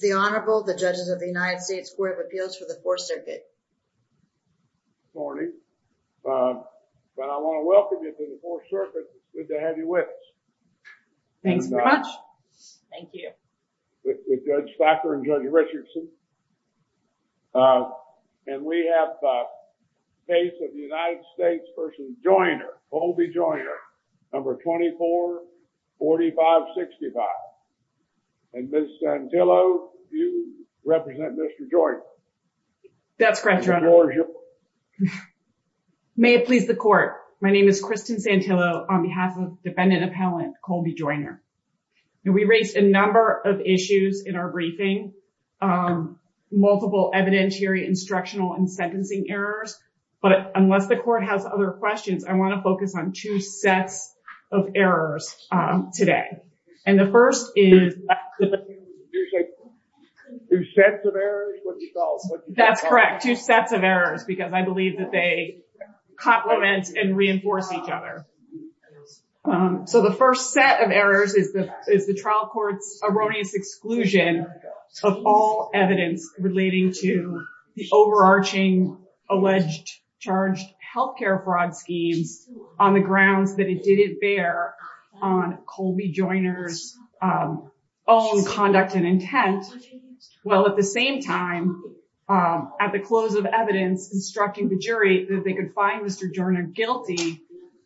The Honorable, the Judges of the United States Court of Appeals for the Fourth Circuit. Good morning. I want to welcome you to the Fourth Circuit. Good to have you with us. Thank you very much. Thank you. This is Judge Thacker and Judge Richardson. And we have the case of the United States v. Joyner, Colby Joyner, number 244565. And Ms. Santillo, you represent Mr. Joyner. That's correct, Your Honor. May it please the Court. My name is Kristen Santillo on behalf of defendant appellant Colby Joyner. We raised a number of issues in our briefing, multiple evidentiary, instructional, and sentencing errors. But unless the Court has other questions, I want to focus on two sets of errors today. And the first is... Two sets of errors? That's correct, two sets of errors, because I believe that they complement and reinforce each other. So the first set of errors is the trial court's erroneous exclusion of all evidence relating to the overarching alleged charged health care fraud scheme on the grounds that it didn't bear on Colby Joyner's own conduct and intent, while at the same time, at the close of evidence, instructing the jury that they could find Mr. Joyner guilty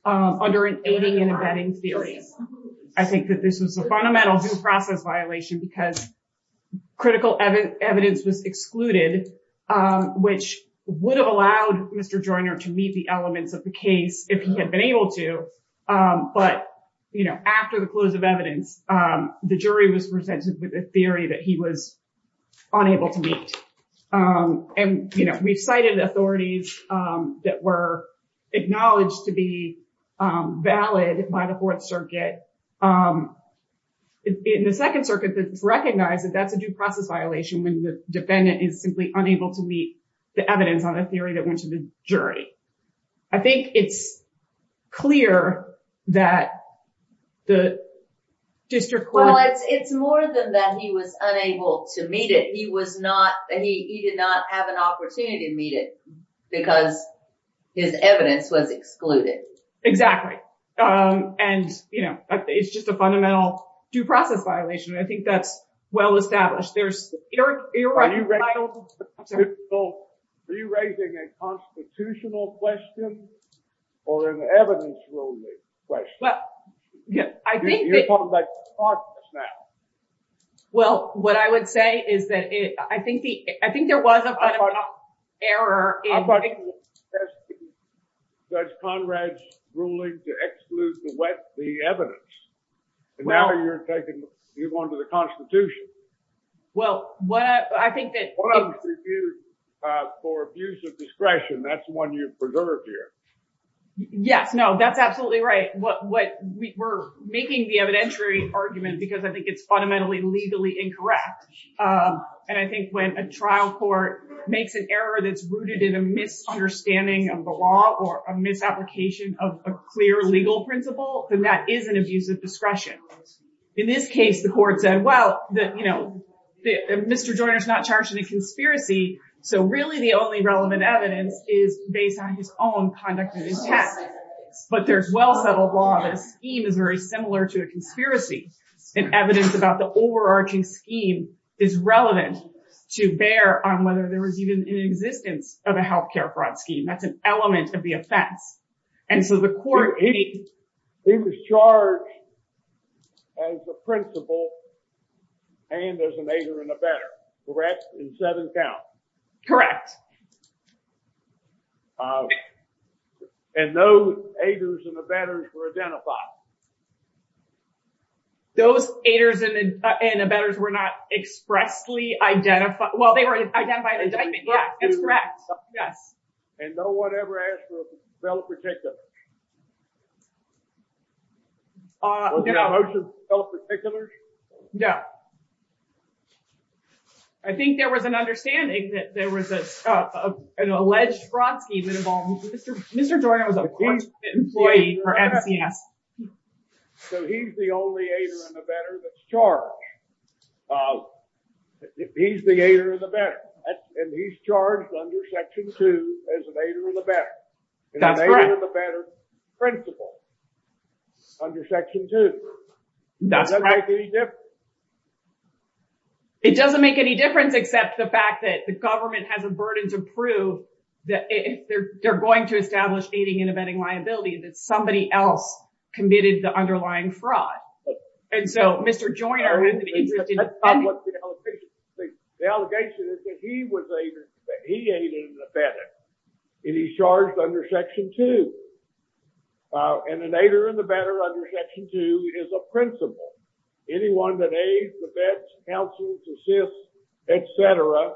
under an aiding and abetting theory. I think that this is a fundamental due process violation, because critical evidence was excluded, which would have allowed Mr. Joyner to meet the elements of the case if he had been able to. But after the close of evidence, the jury was presented with a theory that he was unable to meet. And we cited authorities that were acknowledged to be valid by the Fourth Circuit. And the Second Circuit just recognized that that's a due process violation when the defendant is simply unable to meet the evidence on a theory that went to the jury. I think it's clear that the district court... Well, it's more than that he was unable to meet it. He did not have an opportunity to meet it because his evidence was excluded. Exactly. And it's just a fundamental due process violation. I think that's well established. Are you raising a constitutional question or an evidence-only question? Well, what I would say is that I think there was an error... I'm talking about Judge Conrad's ruling to exclude the evidence. Now you're taking the one to the Constitution. Well, what I think that... One of them is for abuse of discretion. That's the one you preserved here. Yes. No, that's absolutely right. We're making the evidentiary argument because I think it's incorrect. And I think when a trial court makes an error that's rooted in a misunderstanding of the law or a misapplication of a clear legal principle, then that is an abuse of discretion. In this case, the court said, well, Mr. Joyner's not charged in a conspiracy, so really the only relevant evidence is based on his own conduct and his past. But there's well settled law that scheme is very similar to a conspiracy, and evidence about the overarching scheme is relevant to bear on whether there was even an existence of a healthcare fraud scheme. That's an element of the offense. And so the court... He was charged as the principal and as a neighbor and a better. Correct? In seven counts. Correct. Correct. And those haters and the betters were identified. Those haters and the betters were not expressly identified. Well, they were identified as... Yes. Correct. Yes. And no one ever asked for self-particulars. Was the motion self-particular? No. I think there was an understanding that there was an alleged fraud scheme involved. So he's the only hater and the better that's charged. He's the hater and the better. And he's charged under section two as a hater and the better. And the hater and the better's principal under section two. Does that make any difference? It doesn't make any difference except the fact that the government has a burden to prove that they're going to establish hating and abetting liabilities if somebody else committed the underlying fraud. And so Mr. Joyner... The allegation is that he was hating and abetting and he's charged under section two. And the hater and the better under section two is a principal. Anyone that aids, abets, counsels, assists, et cetera,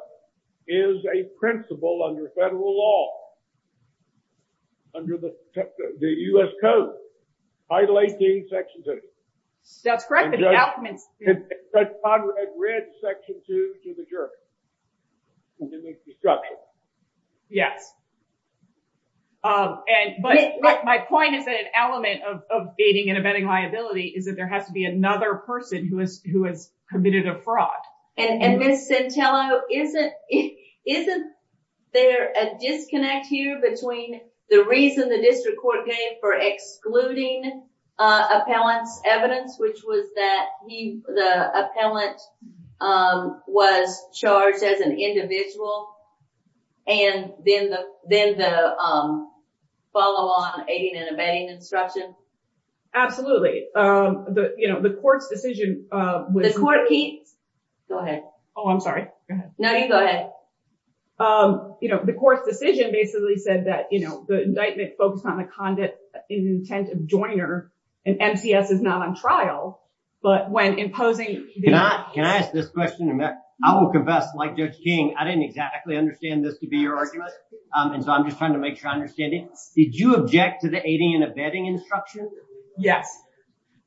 is a principal under federal law, under the U.S. Code, Title 18, section two. That's correct. I read section two to the jury. It's a misconstruction. Yes. But my point is that an element of hating and abetting liability is that there has to be another person who has committed a fraud. And Ms. Centello, isn't there a disconnect here between the reason the district court made for excluding appellant's evidence, which was that the appellant was charged as an individual, and then the follow-on hating and abetting instruction? Absolutely. The court's decision was... The court... Go ahead. Oh, I'm sorry. Go ahead. No, you go ahead. The court's decision basically said that the indictment focused on the conduct in the intent of joiner, and MCS is not on trial, but when imposing... Can I ask this question? I will confess, like Judge King, I didn't exactly understand this to be your argument, and so I'm just trying to make sure I understand it. Did you object to the hating and abetting instruction? Yes.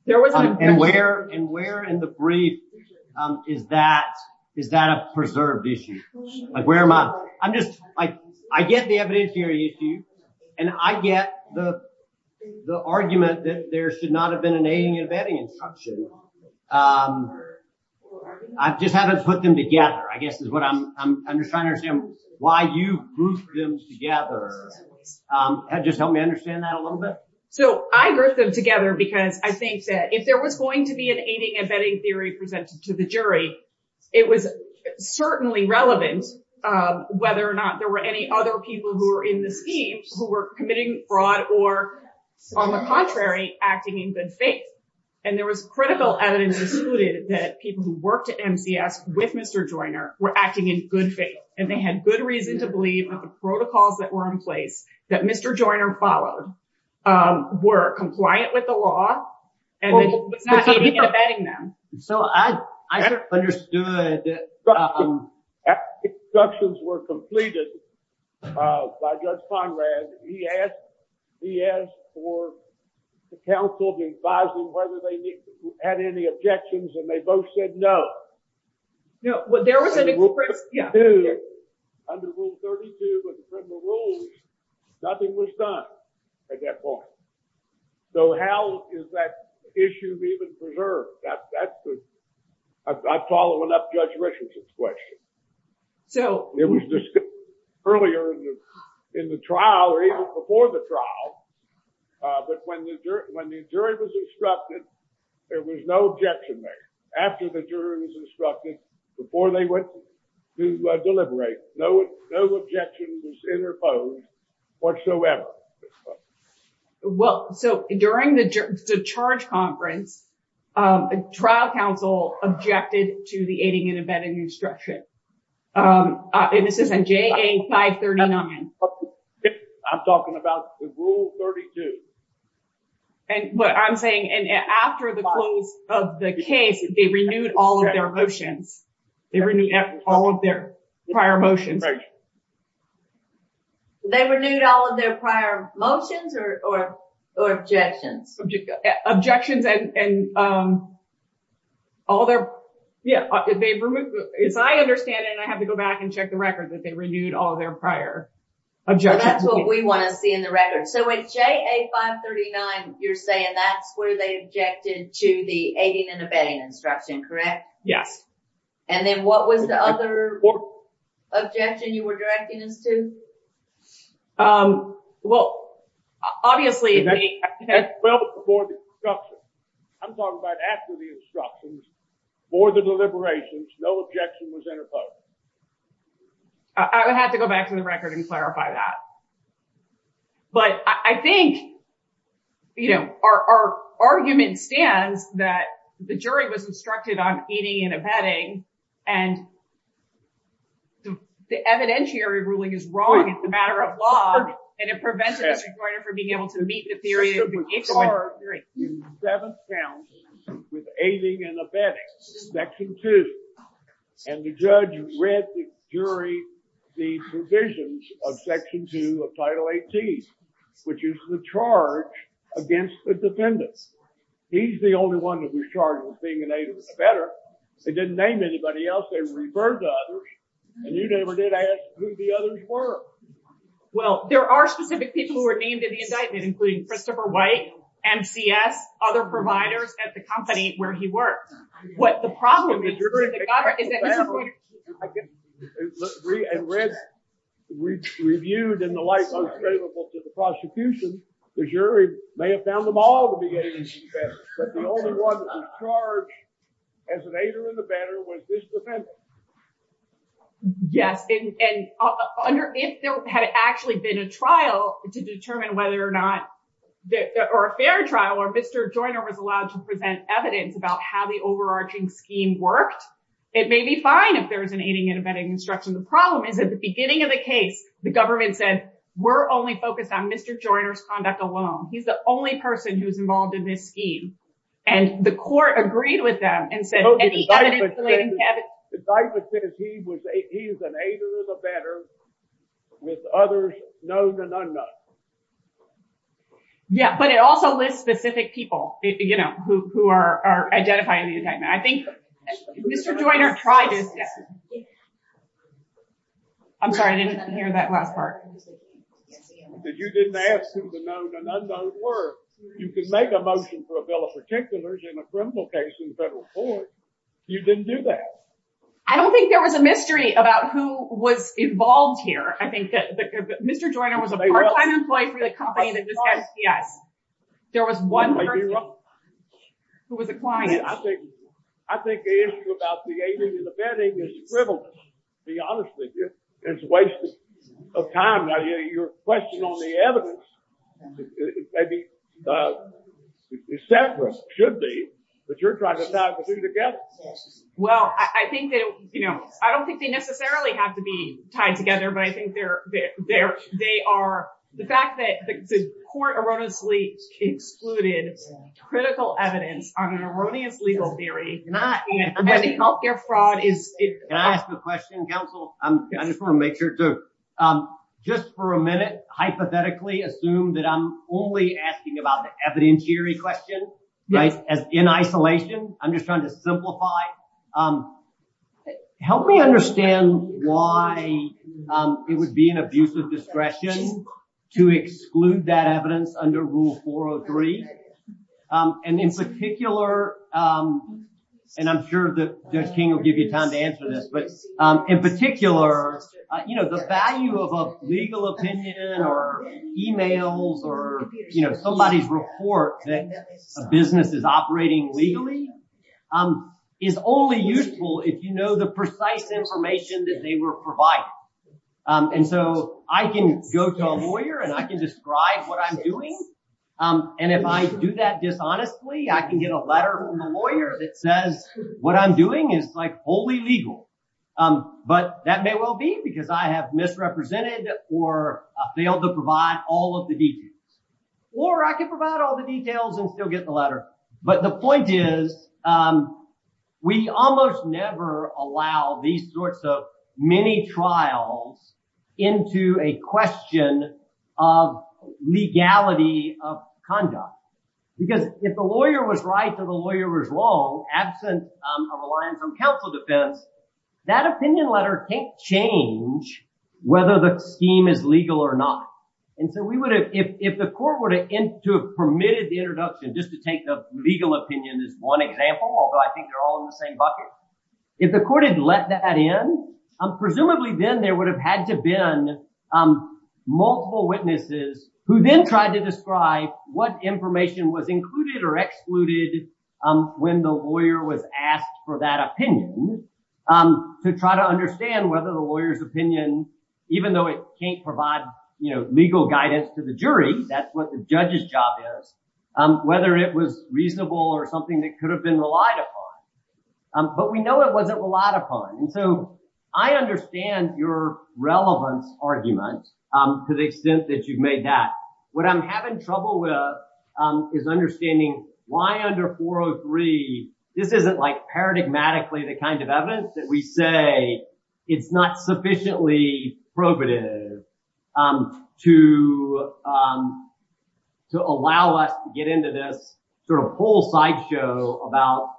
And where in the brief is that a preserved issue? Where am I... I get the evidentiary issue, and I get the argument that there should not have been an hating and abetting instruction. I just haven't put them together, I guess, is what I'm... I'm just trying to understand why you grouped them together. Just help me understand that a little bit. So I grouped them together because I think that if there was going to be an hating and abetting theory presented to the jury, it was certainly relevant whether or not there were any other people who were in the seats who were committing fraud or, on the contrary, acting in good faith. And there was critical evidence included that people who worked at MCS with Mr. Joiner were acting in good faith, and they had good reason to believe that the protocols that were in place that Mr. Joiner followed were compliant with the law, and not hating and abetting them. So I just understood that instructions were completed by Judge Conrad. He asked for the council to advise them whether they had any objections, and they both said no. No, but there was an... Under Rule 32 of the criminal rules, nothing was done at that point. So how is that issue even preserved? That's the... I'm following up Judge Richardson's question. It was discussed earlier in the trial, or even before the trial, but when the jury was instructed, there was no objection there. After the jury was instructed, before they went to deliberate, no objection was interposed whatsoever. Well, so during the charge conference, the trial council objected to the hating and abetting instruction. This is in JA 539. I'm talking about Rule 32. And what I'm saying, and after the close of the case, they renewed all of their motions. They renewed all of their prior motions. They renewed all of their prior motions or objections? Objections and all their... Yeah. If I understand it, I have to go back and check the records that they renewed all their prior objections. That's what we want to see in the 539. You're saying that's where they objected to the hating and abetting instruction, correct? Yeah. And then what was the other objection you were directing them to? Well, obviously... I'm talking about after the instructions, before the deliberations, no objection was interposed. I would have to go back to the record and clarify that. But I think our argument stands that the jury was instructed on hating and abetting, and the evidentiary ruling is wrong. It's a matter of law, and it prevents the judge from being able to meet the theory. It was charged in seven counts with hating and abetting, section two. And the judge read the jury the provisions of section two of title 18, which is the charge against the defendant. He's the only one that was charged with being an aided abetter. They didn't name anybody else. They referred to others, and you never did ask who the others were. Well, there are specific people who Christopher White, MCS, other providers at the company where he worked. What the problem is, you're going to... And read, reviewed, and the like, unscrutable to the prosecution, the jury may have found them all to be hating and abetting, but the only one that was charged as an aided abetter was this defendant. Yes. And if there had actually been a trial to determine whether or not... Or a fair trial, or Mr. Joyner was allowed to present evidence about how the overarching scheme worked, it may be fine if there was an hating and abetting instruction. The problem is, at the beginning of the case, the government said, we're only focused on Mr. Joyner's conduct alone. He's the only person who's involved in this scheme. And the court agreed with them and said... The indictment says he is an aider of abetter with others known and unknown. Yeah, but it also lists specific people who are identifying the defendant. I think Mr. Joyner tried to... I'm sorry, I didn't hear that last part. Because you didn't ask who the known and unknown were. You could make a motion for a bill of particulars in a criminal case in federal court. You didn't do that. I don't think there was a mystery about who was involved here. I think that Mr. Joyner was the first unemployed for the company that did that. There was one person who was a client. I think the issue about the aiding and abetting is frivolous, to be honest with you. It's a waste of time. Now, your question on the evidence, it may be... It should be that you're trying to tie the two together. Well, I don't think they necessarily have to be tied together, but I think they are... The fact that the court erroneously excluded critical evidence on an erroneous legal theory, not healthcare fraud is... Can I ask a question, counsel? I just want to make sure too. Just for a minute, hypothetically, assume that I'm only asking about the evidentiary question as in isolation. I'm just trying to simplify. Help me understand why it would be an abuse of discretion to exclude that evidence under Rule 403. In particular, and I'm sure that you have a legal opinion or emails or somebody's report that a business is operating legally, is only useful if you know the precise information that they were providing. I can go to a lawyer and I can describe what I'm doing. If I do that dishonestly, I can get a letter from the lawyer that says what I'm doing is wholly legal. That may well be because I have misrepresented or failed to provide all of the details. Or I can provide all the details and still get the letter. But the point is, we almost never allow these sorts of mini-trials into a question of legality of conduct. Because if the lawyer was right or the lawyer was wrong, absent a reliance on counsel defense, that opinion letter can't change whether the scheme is legal or not. If the court were to have permitted the introduction, just to take the legal opinion as one example, although I think they're all in the same bucket, if the court had let that in, presumably then there would have had to have been multiple witnesses who then tried to describe what information was included or excluded when the lawyer was asked for that opinion to try to understand whether the lawyer's opinion, even though it can't provide legal guidance to the jury, that's what the judge's job is, whether it was reasonable or something that could have been relied upon. But we know it wasn't relied upon. And so I understand your relevant argument to the extent that you've made that. What I'm having trouble with is understanding why under 403, this isn't like paradigmatically the kind of evidence that we say is not sufficiently probative to allow us to get into this sort of full sideshow about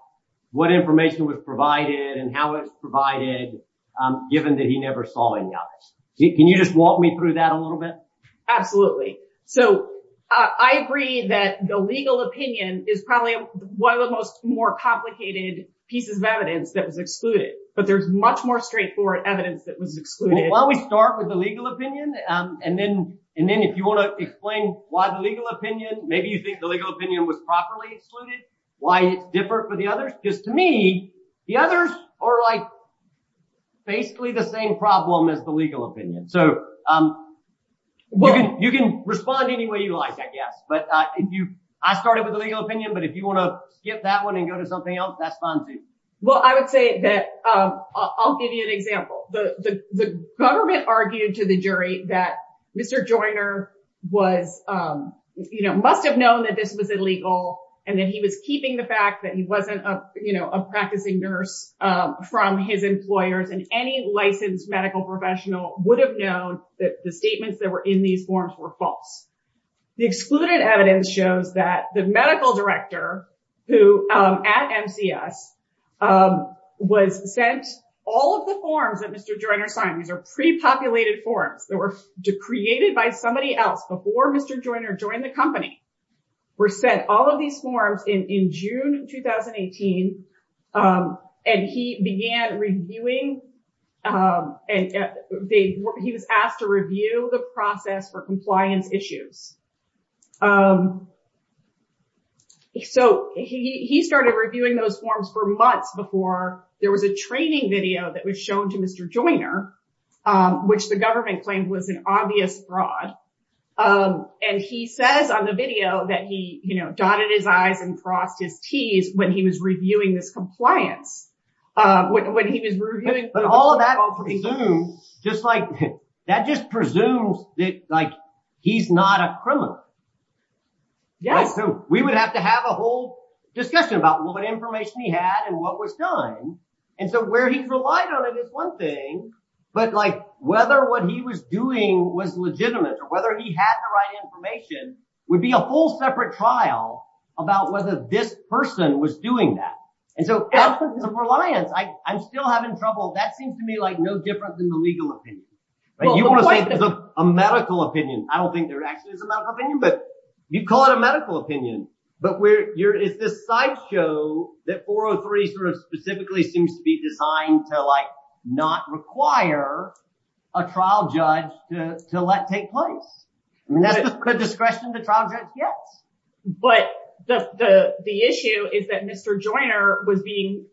what information was provided and how it's provided, given that he never saw any of it. Can you just walk me through that a little bit? Absolutely. So I agree that the legal opinion is probably one of the most more complicated pieces of evidence that was excluded, but there's much more straightforward evidence that was excluded. Well, we start with the legal opinion. And then if you want to explain why the legal opinion, maybe you think the legal opinion was properly excluded, why it's different for the others. Just to me, the others are like basically the same problem as the legal opinion. So you can respond any way you like, I guess. I started with the legal opinion, but if you want to skip that one and go to something else, that's fine too. Well, I would say that I'll give you an example. The government argued to the jury that Mr. Joyner must have known that this was illegal and that he was keeping the fact that he wasn't a practicing nurse from his employers. And any medical professional would have known that the statements that were in these forms were false. The excluded evidence shows that the medical director at NCS was sent all of the forms that Mr. Joyner signed. These are pre-populated forms that were created by somebody else before Mr. Joyner joined the company, were sent all of these forms in June, 2018. And he was asked to review the process for compliance issues. So he started reviewing those forms for months before there was a training video that was shown to Mr. Joyner, which the government claimed was an obvious fraud. And he says on the video that he dotted his I's and crossed his T's when he was reviewing the compliance. But all of that presumes that he's not a criminal. We would have to have a whole discussion about what information he had and what was done. And so where he's relied on it is one thing. But whether what he was doing was legitimate or whether he had the right information would be a whole separate trial about whether this person was doing that. And so that's his reliance. I'm still having trouble. That seems to me like no difference in the legal opinion. You want to say it's a medical opinion. I don't think there actually is a medical opinion, but you'd call it a medical opinion. But it's this sideshow that 403 specifically seems to be designed to not require a trial judge to let take place. Could discretion to trial judge? Yes. But the issue is that Mr. Joyner would be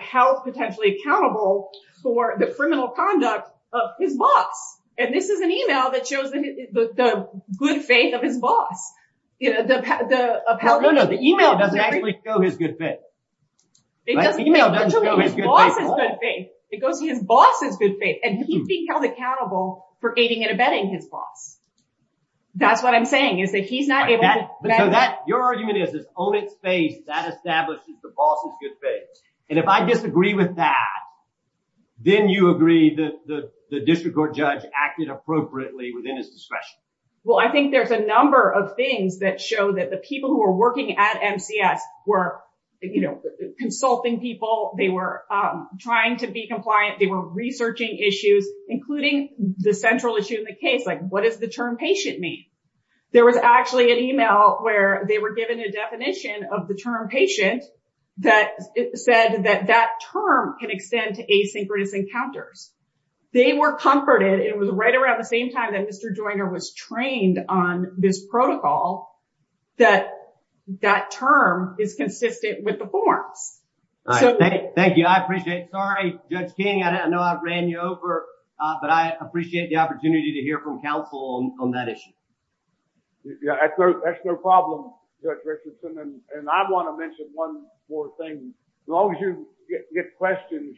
held potentially accountable for the criminal conduct of his boss. And this is an email that shows the good faith of his boss. No, no. The email doesn't actually show his good faith. It doesn't show his good faith. It goes to his boss' good faith. And he'd be held accountable for aiding and abetting his boss. That's what I'm saying, is that he's not able to- Your argument is his own faith that establishes the boss' good faith. And if I disagree with that, then you agree that the district court judge acted appropriately within his discretion. Well, I think there's a number of things that show that the people who are working at MCS were consulting people, they were trying to be compliant, they were researching issues, including the central issue in the case. What does the term patient mean? There was actually an email where they were given a definition of the term patient that said that that term can extend to asynchronous encounters. They were comforted, it was right around the same time that Mr. Joyner was trained on this protocol, that that term is consistent with the form. Thank you. I appreciate it. Sorry, Judge King, I know I've ran you over, but I appreciate the opportunity to hear from counsel on that issue. Yeah, that's their problem, Judge Richardson. And I want to mention one more thing. As long as you get questions,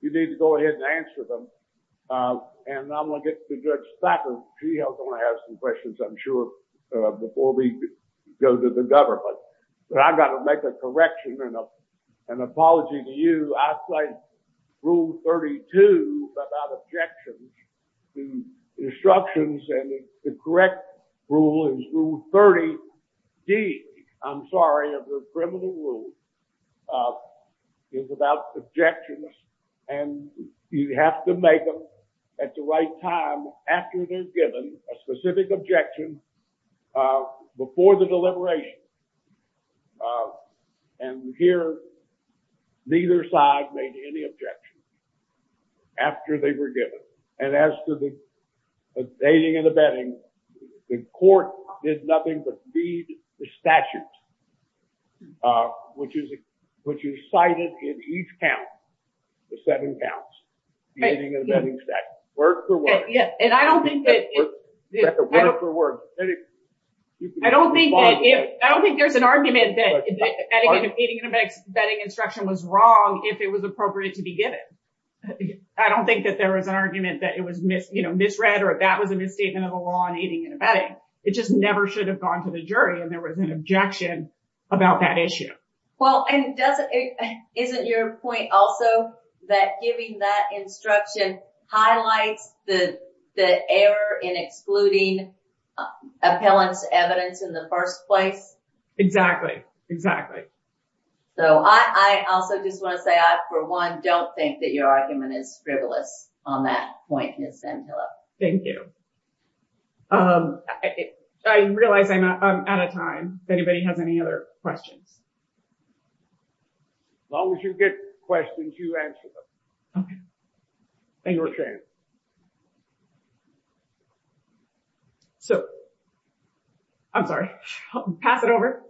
you need to go ahead and answer them. And I'm going to get to Judge before we go to the government. But I've got to make a correction and an apology to you. I say Rule 32 about objections. The instructions and the correct rule is Rule 30D, I'm sorry, of the criminal rule, is about objections. And you have to make them at the right time after they've given a specific objection before the deliberation. And here, neither side made any objections after they were given. And as to the dating and the bedding, the court did nothing but read the statute, which is cited in each count, the seven counts, the dating and bedding statute, word for word. Yeah, and I don't think that... Word for word. I don't think there's an argument that dating and bedding instruction was wrong if it was appropriate to be given. I don't think that there was an argument that it was misread or that was a misstatement of the law on dating and bedding. It just never should have gone to the jury when there was an objection about that issue. Well, and isn't your point also that giving that instruction highlights the error in excluding appellant's evidence in the first place? Exactly. Exactly. So I also just want to say I, for one, don't think that your argument is frivolous on that point, Ms. Ventilla. Thank you. I realize I'm out of time. Does anybody have any other questions? As long as you get questions, you answer them. Thank you for sharing. So, I'm sorry, I'll pass it over.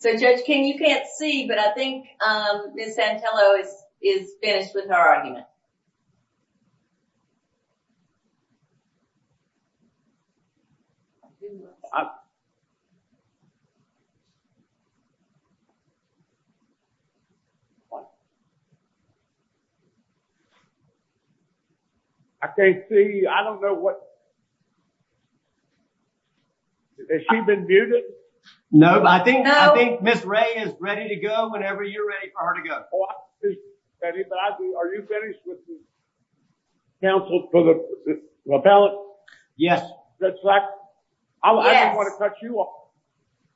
So Judge King, you can't see, but I think Ms. Ventilla is finished with her argument. I can't see. I don't know what. Has she been muted? No, I think Ms. Ray is ready to go whenever you're ready for her to go. Anybody, are you finished with the counsel for the appellant? Yes. I don't want to touch you up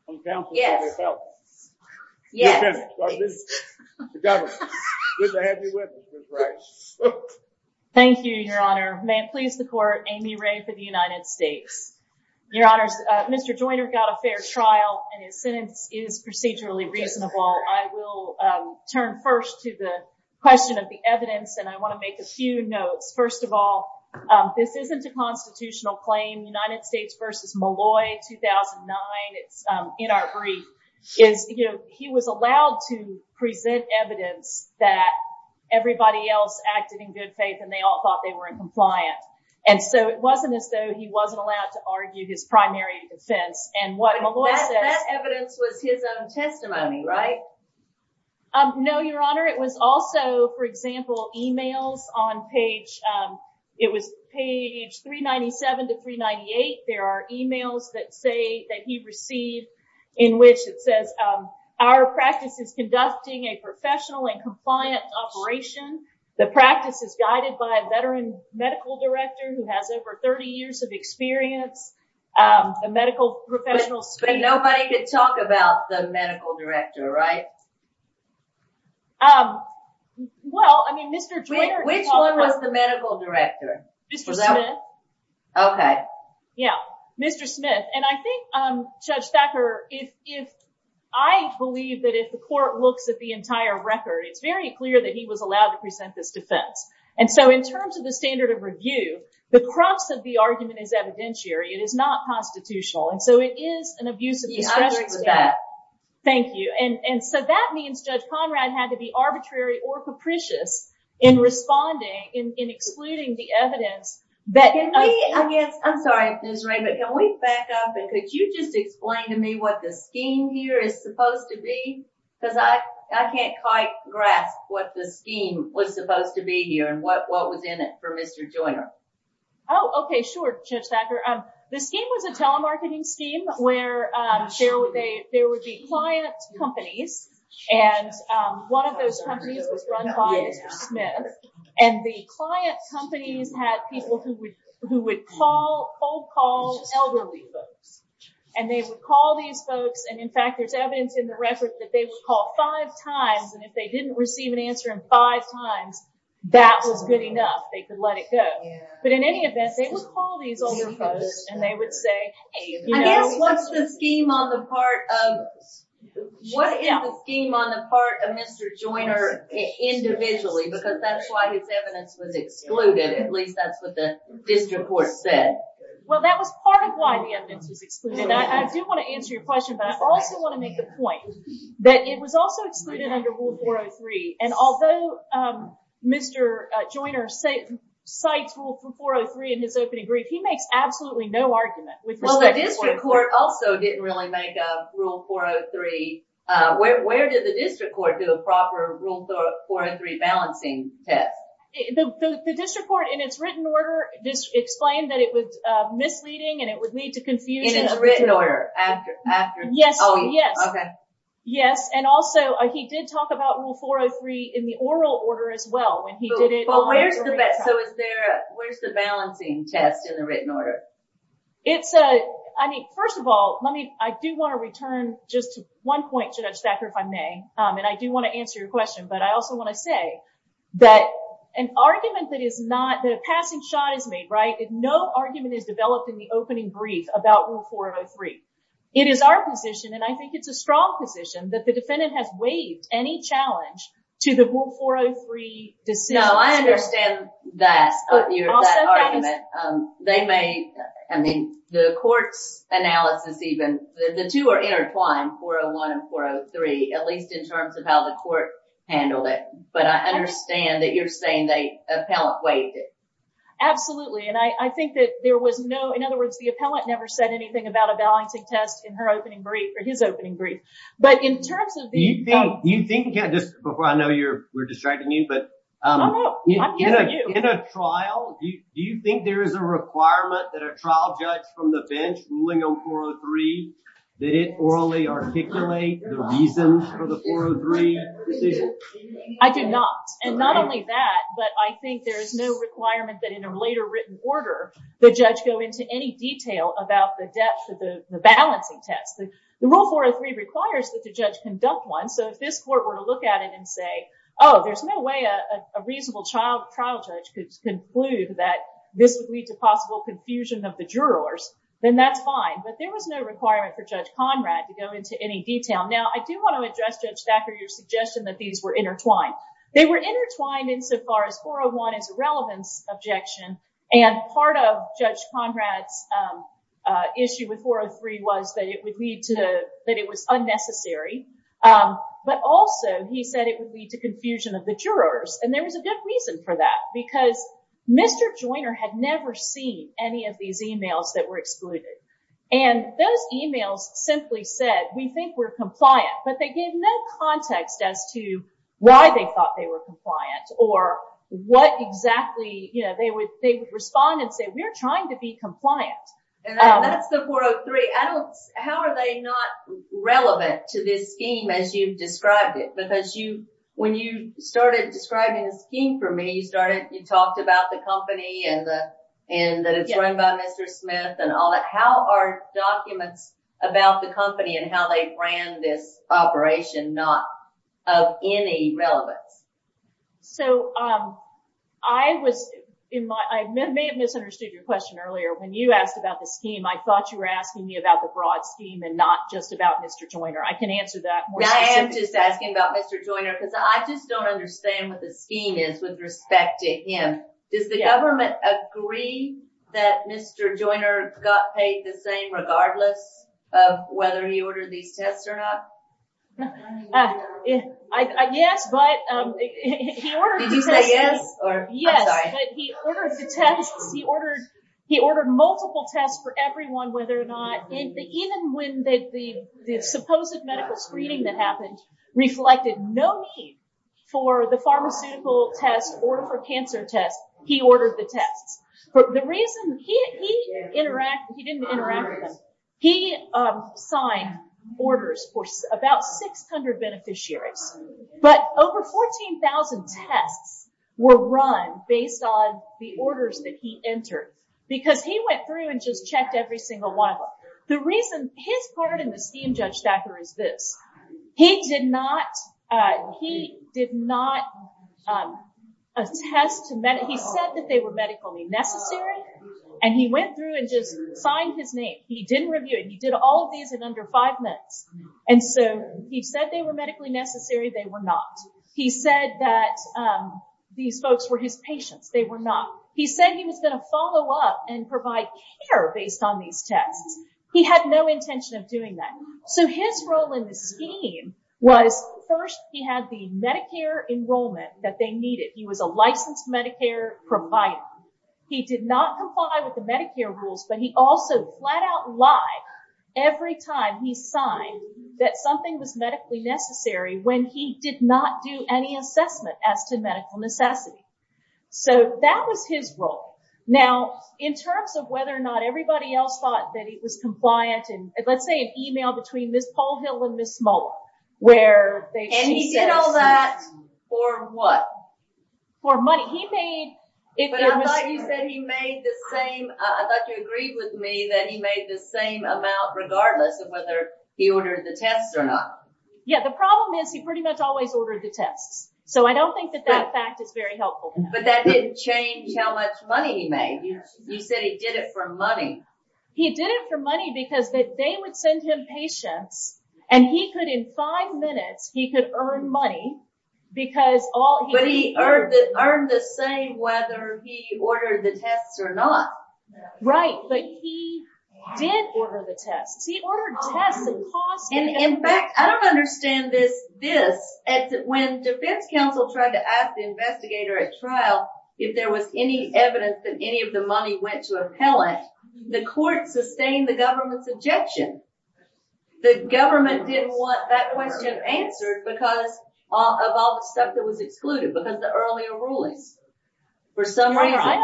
on counsel for the appellant. Yes. Thank you, Your Honor. May I please support Amy Ray for the United States? Your Honor, Mr. Joyner got a fair trial and his sentence is procedurally reasonable. I will turn first to the question of the evidence, and I want to make a few notes. First of all, this isn't a constitutional claim. United States v. Malloy, 2009, it's in our brief. He was allowed to present evidence that everybody else acted in good faith and they all thought they were in compliance. And so it wasn't as though he wasn't allowed to argue his primary defense. And what Malloy said- No, Your Honor. It was also, for example, emails on page 397 to 398. There are emails that he received in which it says, our practice is conducting a professional and compliant operation. The practice is guided by a veteran medical director who has over 30 years of experience. The medical professional- Nobody could talk about the medical director, right? Well, I mean, Mr. Joyner- Which one was the medical director? Okay. Yeah. Mr. Smith. And I think, Judge Thacker, if I believe that if the court looks at the entire record, it's very clear that he was allowed to present his defense. And so in terms of the standard of review, the crux of the argument is evidentiary. It is not constitutional. And so it is an abuse of- Yeah, I agree with that. Thank you. And so that means Judge Conrad had to be arbitrary or capricious in responding, in including the evidence that- I'm sorry, Ms. Ray, but can we back up? Could you just explain to me what the scheme here is supposed to be? Because I can't quite grasp what the scheme was supposed to be here and what was in it for Mr. Joyner. Oh, okay. Sure, Judge Thacker. The scheme was a telemarketing scheme where there would be client companies and one of those companies was run by Mr. Smith. And the client companies had people who would hold calls elderly folks. And they would call these folks. And in fact, there's evidence in the records that they would call five times. And if they didn't receive an answer in five times, that was good enough. They could let it go. But in any event, they would call these elderly folks and they would say- I mean, what's the scheme on the part of- What is the scheme on the part of Mr. Joyner individually? Because that's why his evidence was excluded. At least that's what the district court said. Well, that was part of why the evidence was excluded. And I do want to answer your question, but I also want to make the point that it was also excluded under Rule 403. And although Mr. Joyner cites Rule 403 in his opening brief, he makes absolutely no argument. Well, the district court also didn't really make a Rule 403. Where did the district court do a proper Rule 403 balancing test? The district court, in its written order, explained that it was misleading and it would lead to confusion. In its written order? Yes. Yes. And also, he did talk about Rule 403 in the oral order as well. Where's the balancing test in the written order? I mean, first of all, I do want to return just to one point, Judge Thacker, if I may. And I do want to answer your question. But I also want to say that an argument that is not- that a passing shot is made, right? No argument is developed in the opening brief about Rule 403. It is our position, and I think it's a strong position, that the defendant has waived any challenge to the Rule 403 decision. No, I understand that argument. They may- I mean, the court analysis even- the two are intertwined, 401 and 403, at least in terms of how the court handled it. But I understand that you're saying the appellant waived it. Absolutely. And I think that there was no- in other words, the appellant never said anything about a balancing test in her opening brief, or his opening brief. But in terms of- You think- just before I know you're- we're distracting you, but in a trial, do you think there is a requirement that a trial judge from the bench ruling on 403, did it orally articulate the reasons for the 403? I do not. And not only that, but I think there is no requirement that in a later written order, the judge go into any detail about the depth of the balancing test. The Rule 403 requires that the judge conduct one, so if this court were to look at it and say, oh, there's no way a reasonable trial judge could conclude that this would lead to possible confusion of the jurors, then that's fine. But there was no requirement for Judge Conrad to go into any detail. Now, I do want to address, Judge Thacker, your suggestion that these were intertwined. They were intertwined insofar as 401 is a relevant objection, and part of Judge Conrad's issue with 403 was that it would lead to- that it was unnecessary. But also, he said it would lead to confusion of the jurors. And there was a good reason for that, because Mr. Joyner had never seen any of these emails that were excluded. And those emails simply said, we think we're compliant, but they gave no context as to why they thought they were compliant or what exactly, you know, they would respond and say, we're trying to be compliant. And that's the 403. I don't- how are they not relevant to this scheme as you've described it? Because you- when you started describing the scheme for me, you started- you talked about the company and the- and that it's run by Mr. Smith and all that. How are documents about the company and how they ran this operation not of any relevance? So, I was- in my- I may have misunderstood your question earlier. When you asked about the scheme, I thought you were asking me about the broad scheme and not just about Mr. Joyner. I can answer that more- I am just asking about Mr. Joyner, because I just don't understand what the scheme is with respect to him. Does the government agree that Mr. Joyner got paid the same regardless of whether he ordered these tests or not? Yes, but he ordered multiple tests for everyone, whether or not- even when the supposed medical screening that happened reflected no case for the pharmaceutical test or for cancer test, he ordered the test. The reason- he didn't interact with us. He signed orders for about 600 beneficiaries, but over 14,000 tests were run based on the orders that he entered, because he went through and just checked every single one of them. The reason his part in the scheme, Judge Stacker, is this. He did not- he did not- he said that they were medically necessary, and he went through and just signed his name. He didn't review it. He did all of these in under five minutes, and so he said they were medically necessary. They were not. He said that these folks were his patients. They were not. He said he was going to follow up and provide care based on these tests. He had no intention of doing that. So his role in the scheme was first he had the Medicare enrollment that they needed. He was a licensed Medicare provider. He did not comply with the Medicare rules, but he also flat out lied every time he signed that something was medically necessary when he did not do any assessment as to medical necessity. So that was his role. Now in terms of whether or not everybody else thought that he was compliant, and let's say an email between Ms. Colehill and Ms. Smoltz where they- And he did all that for what? For money. He paid- But I thought you said he made the same- I thought you agreed with me that he made the same amount regardless of whether he ordered the tests or not. Yeah, the problem is he pretty much always ordered the tests, so I don't think that that fact is very helpful. But that didn't change how much money he made. You said he did it for money. He did it for money because they would send him patients and he could in five minutes, he could earn money because all- But he earned the same whether he ordered the tests or not. Right, but he did order the tests. He ordered tests and cost- In fact, I don't understand this. When the defense counsel tried to ask the investigator at trial if there was any evidence that any of the money went to appellant, the court sustained the government's objection. The government didn't want that question answered because of all the stuff that was excluded because of the earlier ruling. For some reason-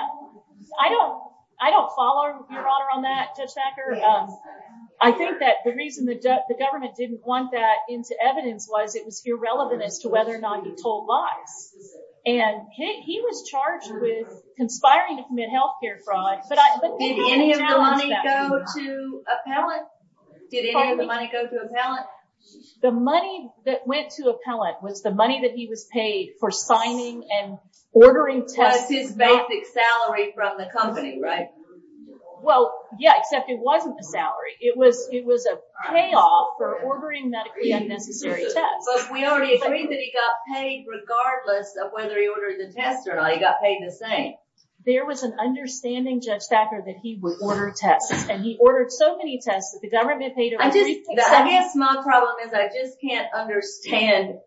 I don't follow your honor on that, Judge Thacker. I think that the reason the government didn't want that into evidence was it was irrelevant as to whether or not he told lies. And he was charged with conspiring to commit healthcare fraud, but I- Did any of the money go to appellant? Did any of the money go to appellant? The money that went to appellant was the money that he was paid for signing and ordering tests. That's his basic salary from the company, right? Well, yeah, except it wasn't a It was a payoff for ordering the unnecessary tests. But we already agreed that he got paid regardless of whether he ordered the tests or not. He got paid the same. There was an understanding, Judge Thacker, that he would order tests, and he ordered so many tests that the government- I guess my problem is I just can't understand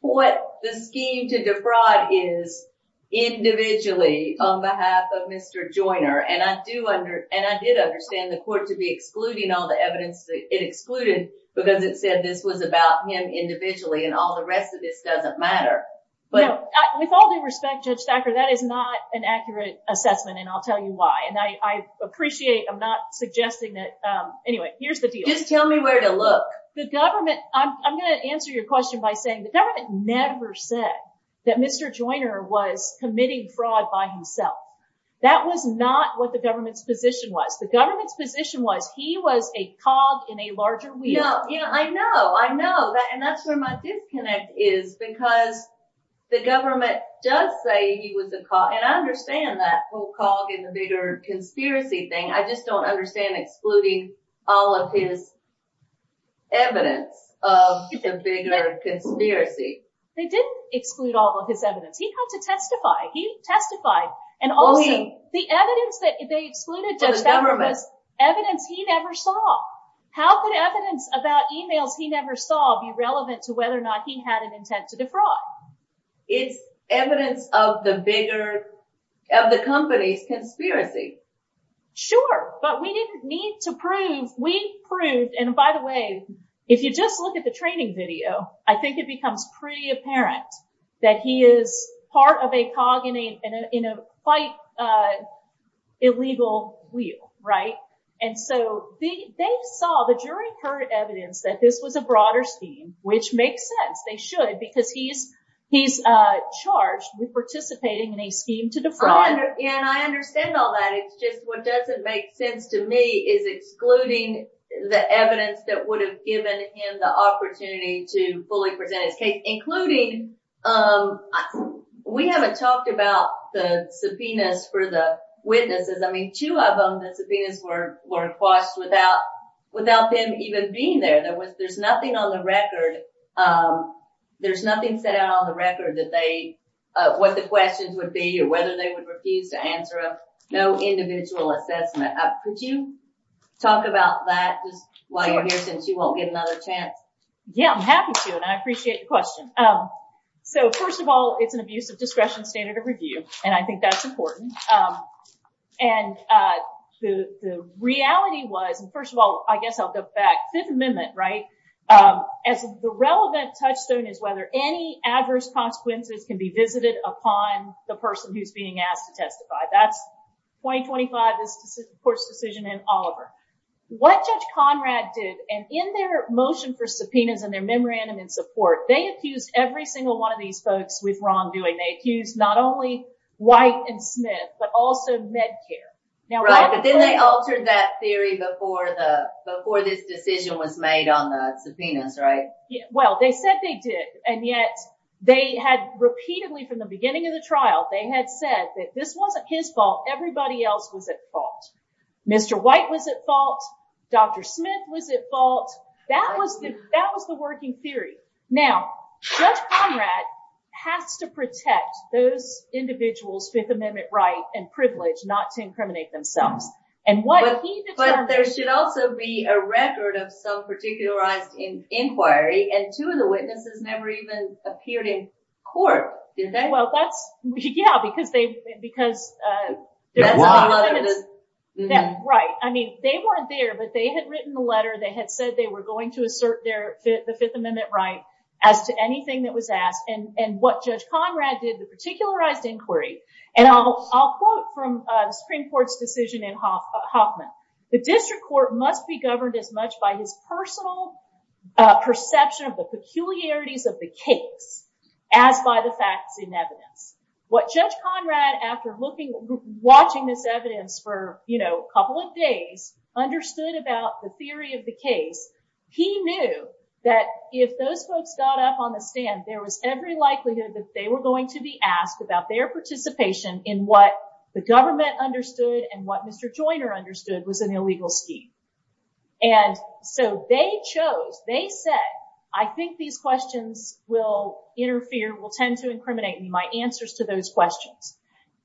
what the scheme to defraud is individually on behalf of Mr. Joyner. And I did understand the court to be excluding all the evidence that it excluded because it said this was about him individually, and all the rest of this doesn't matter. With all due respect, Judge Thacker, that is not an accurate assessment, and I'll tell you why. And I appreciate- I'm not suggesting that- Anyway, here's the deal. Just tell me where to look. The government- I'm going to answer your question by saying the government never said that Mr. Joyner was committing fraud by himself. That was not what the government's position was. The government's position was he was a cog in a larger wheel. Yeah, yeah, I know. I know. And that's where my disconnect is because the government does say he was a cog, and I understand that whole cog in the bigger conspiracy thing. I just don't understand excluding all of his evidence of the bigger conspiracy. They didn't exclude all of his evidence. He comes to testify. He testified, and all the evidence that they excluded- For the government. Evidence he never saw. How could evidence about emails he never saw be relevant to whether or not he had an intent to defraud? It's evidence of the bigger- of the company's conspiracy. Sure, but we didn't need to prove- We proved- And by the way, if you just look at the training video, I think it becomes pretty apparent that he is part of a cog in a quite illegal wheel, right? And so, they saw the very current evidence that this was a broader scheme, which makes sense. They should because he's charged with participating in a scheme to defraud. And I understand all that. It's just what doesn't make sense to me is excluding the evidence that would have given him the opportunity to fully present his case, including- We haven't talked about the subpoenas for the witnesses. I mean, two of them, the subpoenas were acquired without them even being there. There's nothing on the record. There's nothing set out on the record that they- What the questions would be or whether they would refuse to answer. No individual assessment. Could you talk about that and why you're here since you won't get another chance? Yeah, I'm happy to, and I appreciate your question. So, first of all, it's an abuse of discretion standard of review, and I think that's important. And the reality was, and first of all, I guess I'll go back. This amendment, right? The relevant touchstone is whether any adverse consequences can be visited upon the person who's being asked to testify. That 2025 is the court's decision in Oliver. What Judge Conrad did, and in their motion for subpoenas and their memorandum in support, they accused every single one of these folks with wrongdoing. They accused not only White and Smith, but also Medcare. Right, but then they altered that theory before this decision was made on the subpoenas, right? Well, they said they did, and yet they had repeatedly, from the beginning of the trial, they had said that this wasn't his fault. Everybody else was at fault. Mr. White was at fault. Dr. Smith was at fault. That was the working theory. Now, Judge Conrad has to protect those individuals' Fifth Amendment rights and privilege not to incriminate themselves. But there should also be a record of self-particularized inquiry, as two of the witnesses never even appeared in court, did they? Well, yeah, because that's right. I mean, they weren't there, but they had written the letter. They had said they were going to assert the Fifth Amendment right as to anything that was asked. And what Judge Conrad did, the particularized inquiry, and I'll quote from the Supreme Court's decision in Hoffman. The district court must be governed as much by his personal perception of the peculiarities of the case as by the facts in evidence. What Judge Conrad, after watching this evidence for a couple of days, understood about the theory of the case, he knew that if those folks got up on the stand, there was every likelihood that they were going to be asked about their participation in what the government understood and what Mr. Joyner understood was an illegal scheme. And so they chose, they said, I think these questions will interfere, will tend to incriminate me. My answers to those questions.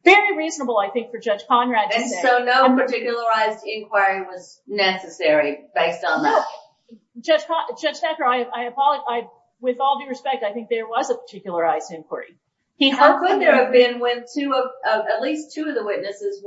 Very reasonable, I think, for Judge Conrad. And so no particularized inquiry was necessary based on that. Judge Sackler, I apologize. With all due respect, I think there was a particularized inquiry. How could there have been when at least two of the witnesses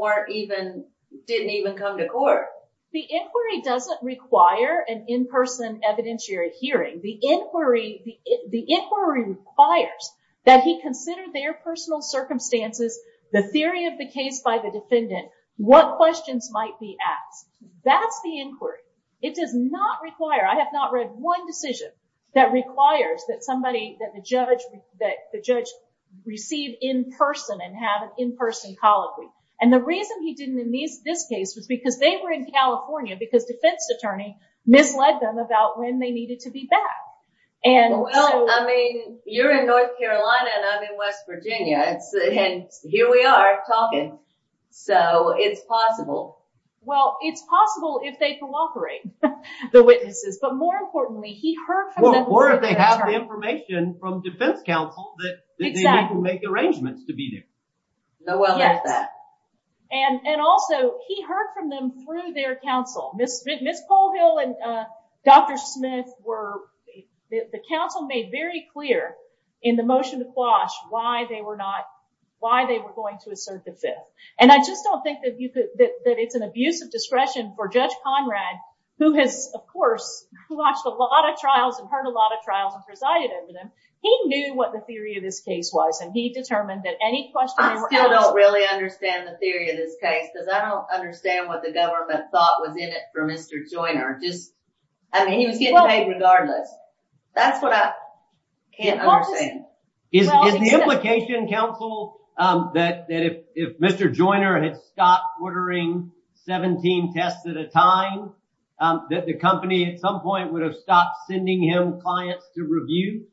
didn't even come to court? The inquiry doesn't require an in-person evidentiary hearing. The inquiry requires that he consider their personal circumstances, the theory of the case by the defendant, what questions might be asked. That's the inquiry. It does not require, I have not read one decision that requires that the judge receive in-person and have an in-person policy. And the reason he didn't in this case was because they were in California, because defense attorney misled them about when they needed to be back. I mean, you're in North Carolina and I'm in West Virginia, and here we are talking. So it's Well, it's possible if they cooperate, the witnesses. But more importantly, he heard from them. Or if they have the information from defense counsel that they need to make arrangements to be there. Yes. And also, he heard from them through their counsel. Ms. Colehill and Dr. Smith were, the counsel made very clear in the motion to squash why they were going to assert this. And I just don't think that it's an abuse of discretion for Judge Conrad, who has, of course, watched a lot of trials and heard a lot of trials and presided over them. He knew what the theory of this case was, and he determined that any questions were I still don't really understand the theory of this case, because I don't understand what the government thought was in it for Mr. Joyner. I mean, he was getting paid regardless. That's what I can't understand. Is the implication, counsel, that if Mr. Joyner had stopped ordering 17 tests at a time, that the company at some point would have stopped sending him clients to review?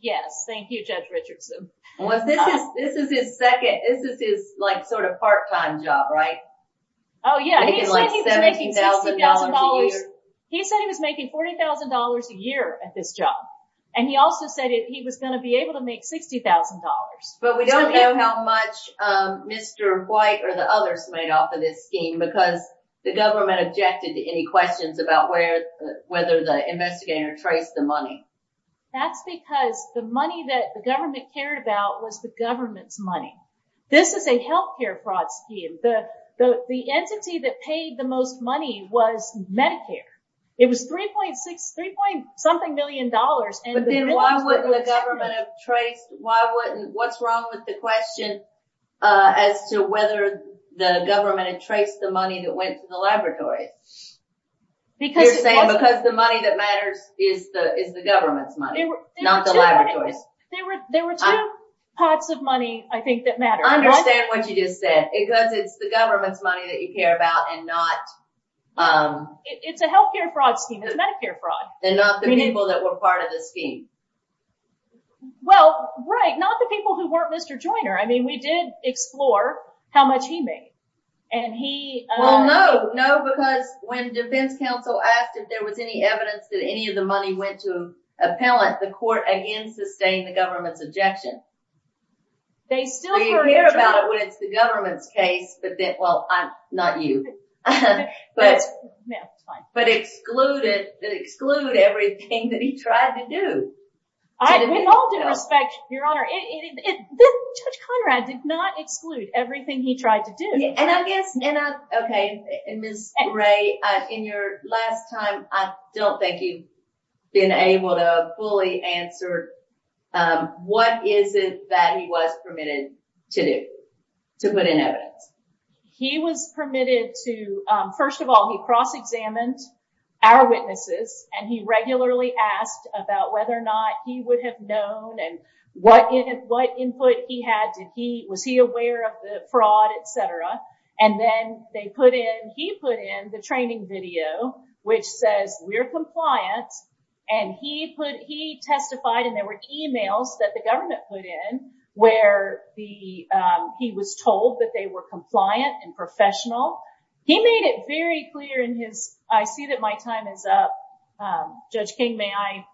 Yes. Thank you, Judge Richardson. Well, this is his second, this is his like sort of part-time job, right? Oh, yeah. He's making $70,000 a year. at this job. And he also said he was going to be able to make $60,000. But we don't know how much Mr. White or the others made off of this scheme, because the government objected to any questions about whether the investigator traced the money. That's because the money that the government cared about was the government's money. This is a health care fraud scheme. The entity that paid the most money was Medicare. It was $3.6, $3.something million. But then why wouldn't the government have traced, what's wrong with the question as to whether the government had traced the money that went to the laboratory? You're saying because the money that matters is the government's money, not the laboratory. There were two types of money, I think, that matter. I understand what you just said, because it's the government's money that you care about and not... It's a health care fraud scheme. It's a Medicare fraud scheme. And not the people that were part of the scheme. Well, right. Not the people who weren't Mr. Joyner. I mean, we did explore how much he made. And he... Well, no. No, because when defense counsel asked if there was any evidence that any of the money went to an appellant, the court, again, sustained the government's objection. Well, you care about when it's the government's case, but then, well, not you. But excluded, that exclude everything that he tried to do. They all did, in fact, Your Honor. Judge Conrad did not exclude everything he tried to do. And I guess, okay, Ms. Gray, in your last time, I still think he's been able to fully answer what is it that he was permitted to do, to put in evidence. He was permitted to... First of all, he cross-examined our witnesses, and he regularly asked about whether or not he would have known and what input he had. Was he aware of the fraud, et cetera? And then they put in... He put in the training video, which says, we're compliant. And he testified, and there were emails that the government put in where he was told that they were compliant and professional. He made it very clear in his... I see that my time is up. Judge King, may I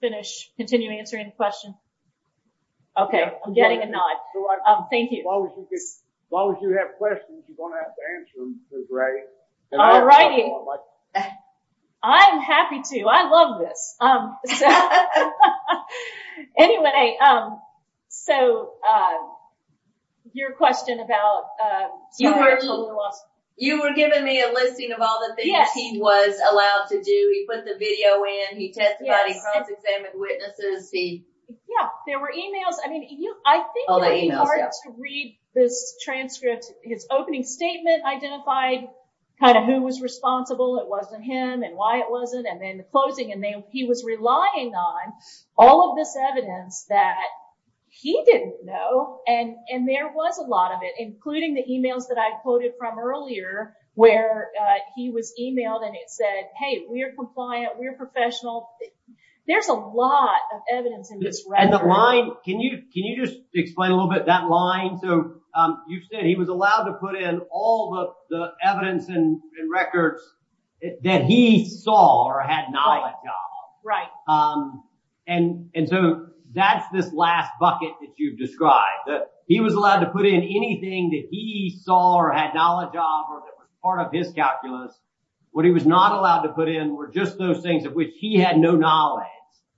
finish, continue answering questions? Okay. I'm getting a nod. Thank you. As long as you have questions, you're going to have great time. All righty. I'm happy to. I loved it. Anyway, so your question about... You were giving me a listing of all the things he was allowed to do. He put the video in, he testified, he cross-examined witnesses. Yeah, there were emails. I mean, I think you'll be hard to read this transcript. His opening statement identified kind of who was responsible, it wasn't him, and why it wasn't, and then the closing, and then he was relying on all of this evidence that he didn't know. And there was a lot of it, including the emails that I quoted from earlier, where he was emailed and it said, hey, we're compliant, we're professional. There's a lot of evidence in this record. And the line, can you just explain a little bit that line? You said he was allowed to put in all the evidence and records that he saw or had knowledge of, and so that's this last bucket that you've described, that he was allowed to put in anything that he saw or had knowledge of, part of his calculus. What he was not allowed to put in were just those things which he had no knowledge.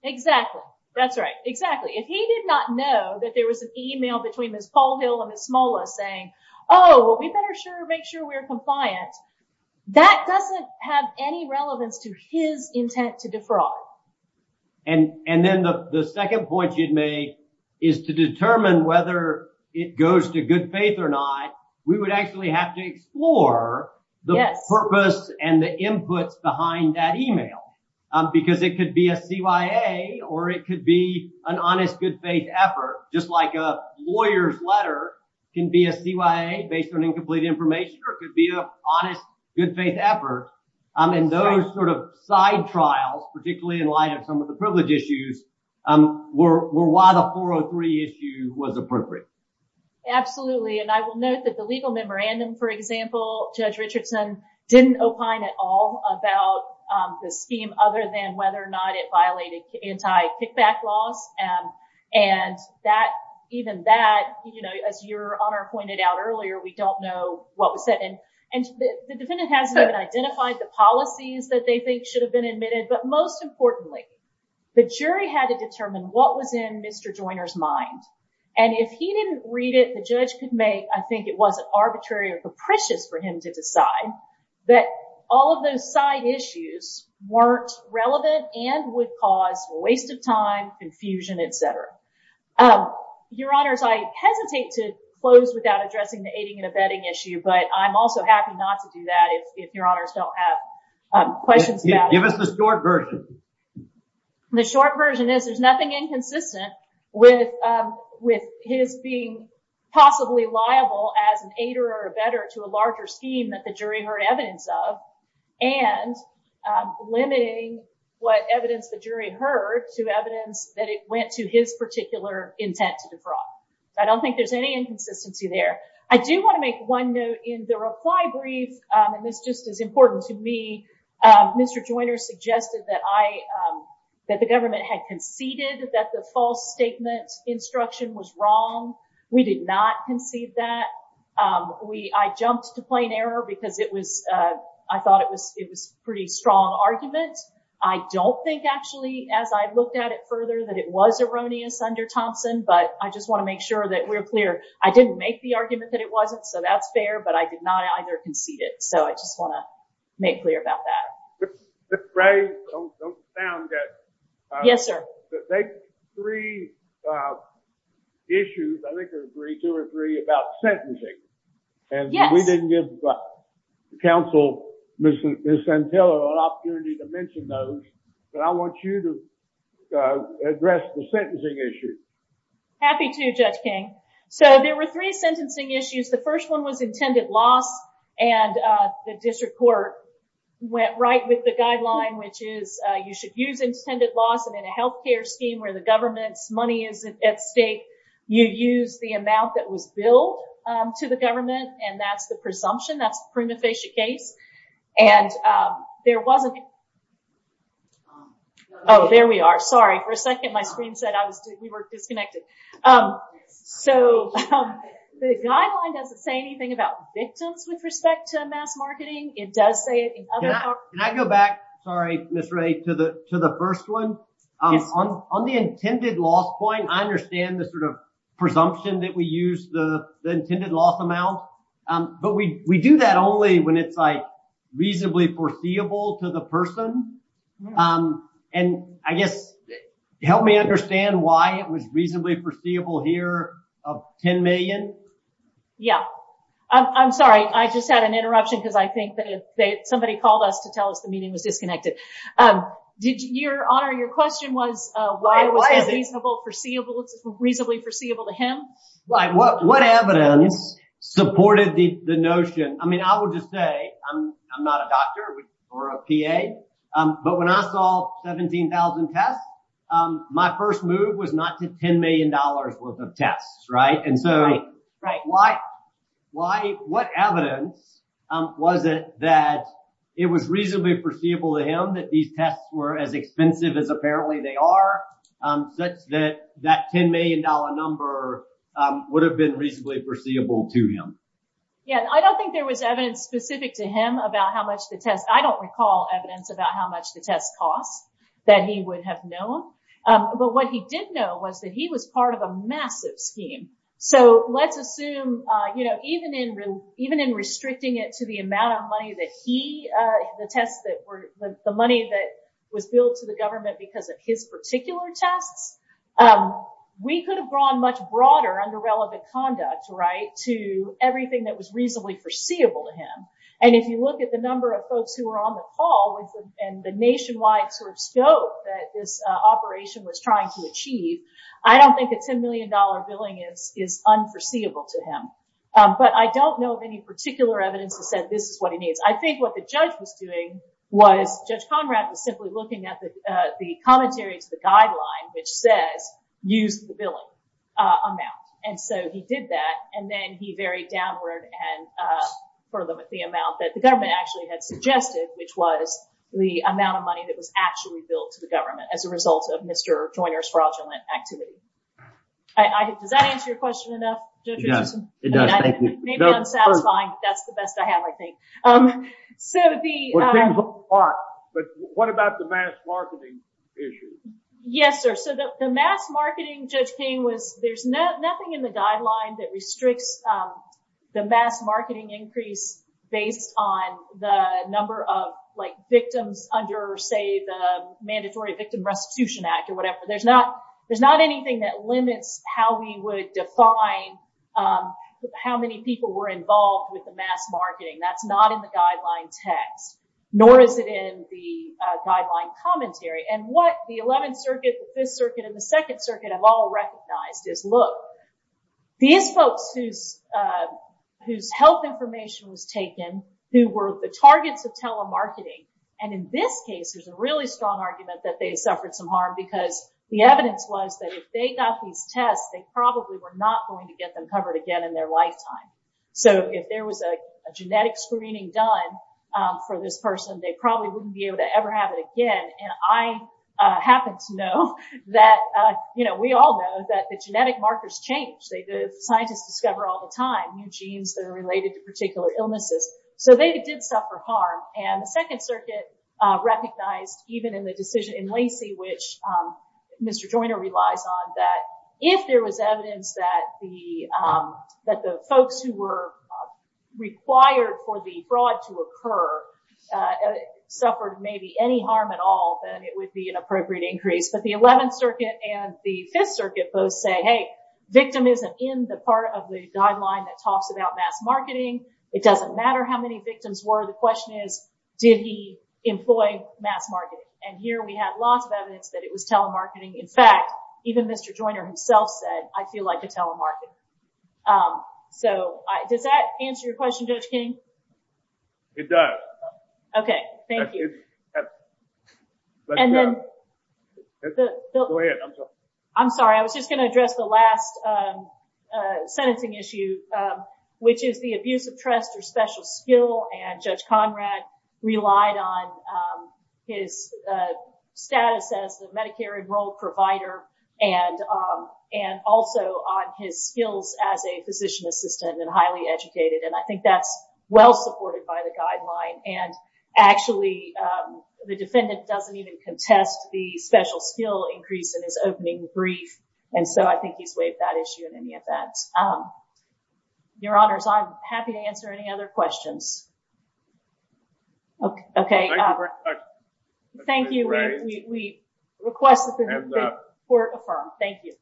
Exactly. That's right. Exactly. If he did not know that there was an email between Ms. Caldwell and Ms. Mola saying, oh, well, we better make sure we're compliant, that doesn't have any relevance to his intent to defraud. And then the second point you made is to determine whether it goes to good faith or not, we would actually have to explore the purpose and the input behind that email, because it could be a CYA or it could be an honest good faith effort, just like a lawyer's letter can be a CYA based on incomplete information or it could be an honest good faith effort. And those sort of side trials, particularly in line with the privilege issues, were why the 403 issue was appropriate. Absolutely. And I will note that the legal memorandum, for example, Judge Richardson didn't opine at all about the scheme other than whether or not it violated anti-kickback law. And even that, as your Honor pointed out earlier, we don't know what was said. And the defendant hasn't identified the policies that they think should have been admitted. But most importantly, the jury had to determine what was in Mr. Joyner's mind. And if he didn't read it, the judge could make, I think it wasn't arbitrary or capricious for him to decide that all of those side issues weren't relevant and would cause waste of time, confusion, et cetera. Your Honors, I hesitate to close without addressing the aiding and abetting issue, but I'm also happy not to do that if your Honors don't have questions. Give us the short version. The short version is there's nothing inconsistent with his being possibly liable as an aider or abetter to a larger scheme that the jury heard evidence of and limiting what evidence the jury heard to evidence that it went to his particular intent to defraud. I don't think there's any inconsistency there. I do want to make one note in the reply brief, and this just is important to me, Mr. Joyner suggested that the government had conceded that the false statement instruction was wrong. We did not concede that. I jumped to plain error because I thought it was a pretty strong argument. I don't think actually, as I looked at it further, that it was erroneous under Thompson, but I just want to make sure that we're clear. I didn't make the argument that it wasn't, so that's fair, but I did not under-concede it. I just want to make clear about that. Ms. Gray, don't you sound that- Yes, sir. Those three issues, I think there's three, two or three about sentencing. We didn't give counsel Ms. Santella an opportunity to mention those, but I want you to address the sentencing issue. Happy to, Judge King. There were three sentencing issues. The first one was intended loss, and the district court went right with the guideline, which is you should use intended loss, and in a healthcare scheme where the government's money is at stake, you use the amount that was billed to the government, and that's the presumption, that's the prima facie case. There wasn't- Oh, there we are. Sorry. For a second, my screen said we were disconnected. The guideline doesn't say anything about victims with respect to mass marketing. It does say- Can I go back, sorry, Ms. Gray, to the first one? On the intended loss point, I understand the presumption that we use the intended loss amount, but we do that only when reasonably foreseeable to the person, and I guess, help me understand why it was reasonably foreseeable here of 10 million? Yeah. I'm sorry. I just had an interruption because I think that somebody called us to tell us the meeting was disconnected. Your Honor, your question was, why was it reasonably foreseeable to him? What evidence supported the notion? I would just say, I'm not a doctor or a PA, but when I saw 17,000 tests, my first move was not to $10 million worth of tests. What evidence was it that it was reasonably foreseeable to him that these tests were as expensive as apparently they are, that that $10 million number would have been reasonably foreseeable to him? Yeah. I don't think there was evidence specific to him about how much the test... I don't recall evidence about how much the test cost that he would have known, but what he did know was that he was part of a massive team. Let's assume, even in restricting it to the amount of money that he... The money that was billed to the government because of his particular test, we could have drawn much broader underrelevant conduct to everything that was reasonably foreseeable to him. If you look at the number of folks who were on the call and the nationwide scope that this operation was trying to achieve, I don't think a $10 million billing is unforeseeable to him, but I don't know of any particular evidence that said this is what he needs. I think what the judge was doing was, Judge Conrad was simply looking at the commentary to the guideline, which said, use the billing amount. He did that, and then he varied downward and further with the amount that the government actually had suggested, which was the amount of money that was actually billed to the government as a result of Mr. Joyer's fraudulent activities. Does that answer your question enough? Yes, it does. Thank you. Maybe I'm satisfying, but that's the best I have, I think. What about the mass marketing issue? Yes, sir. The mass marketing just came with... There's nothing in the guidelines that restricts the mass marketing increase based on the number of victims under, say, the Mandatory Victim Restitution Act or whatever. There's not anything that limits how we would define how many people were involved with the mass marketing. That's not in the guidelines text, nor is it in the guideline commentary. What the 11th Circuit, the 5th Circuit, and the 2nd Circuit have all recognized is, look, these folks whose health information was taken, who were the targets of telemarketing, and in this case, there's a really strong argument that they suffered some harm because the evidence was that if they got these tests, they probably were not going to get them covered again in their lifetime. If there was a genetic screening done for this person, they probably wouldn't be able to ever have it again. I happen to know that... We all know that the genetic markers change. Scientists discover all the time new genes that are related to particular illnesses. They did suffer harm. The 2nd Circuit recognized even in the decision in Lacey, which Mr. Joyner relies on, that if there was evidence that the folks who were required for the fraud to occur suffered maybe any harm at all, then it would be an appropriate increase. But the 11th Circuit and the 5th Circuit both say, hey, victim isn't in the part of the guideline that talks about mass marketing. It doesn't matter how many victims were. The question is, did he employ mass marketing? Here, we have lots of evidence that it was telemarketing. In fact, even Mr. Joyner himself said, I feel like it's telemarketing. Does that answer your question, Judge King? It does. Okay. Thank you. Go ahead. I'm sorry. I'm sorry. I was just going to address the last sentencing issue, which is the abuse of trust or special skill. And Judge Conrad relied on his status as a Medicare-enrolled provider and also on his skills as a physician assistant and highly educated. And I think that's well supported by the guideline. And actually, the defendant doesn't even contest the special skill increase in his opening brief. And so I think he's waived that issue in any event. Your Honor, I'm happy to answer any other questions. Okay. Thank you. We request that this be court-affirmed. Thank you.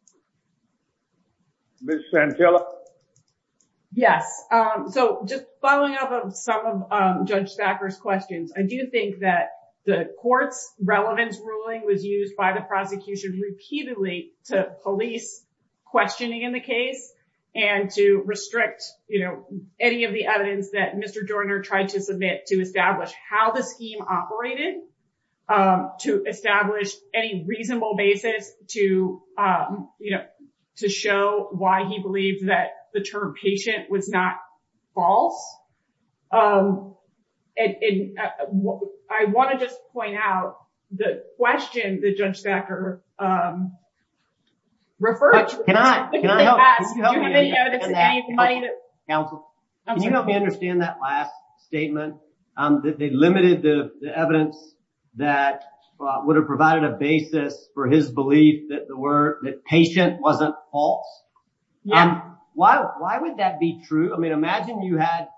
Ms. Santilla? Yes. So just following up on some of Judge Backer's questions, I do think that the court's relevance ruling was used by the prosecution repeatedly to police questioning in the case and to restrict any of the evidence that Mr. Joyner tried to submit to establish how the scheme operated, to establish any reasonable basis to show why he believed that the term patient was not false. And I wanted to point out the question that Judge Backer referred to- You don't understand that last statement, that they limited the evidence that would have provided a basis for his belief that patient wasn't false. And why would that be true? I mean, imagine you had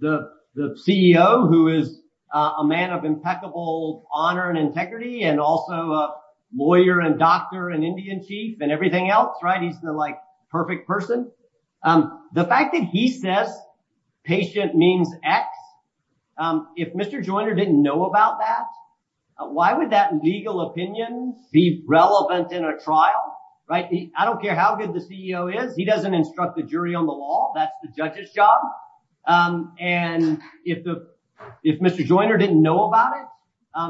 the CEO, who is a man of impeccable honor and integrity and also a lawyer and doctor and Indian chief and everything else, right? He's the perfect person. The fact that he said patient means X, if Mr. Joyner didn't know about that, why would that legal opinion be relevant in a trial? I don't care how good the CEO is. He doesn't instruct the jury on the law. That's the judge's job. And if Mr. Joyner didn't know about it,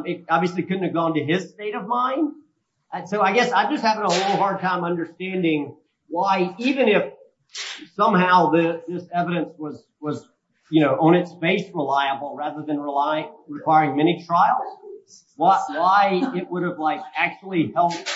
it obviously couldn't have gone to his state of mind. So I guess I'm just having a little hard time understanding why, even if somehow this evidence was on its face reliable rather than requiring many trials, why it would have actually helped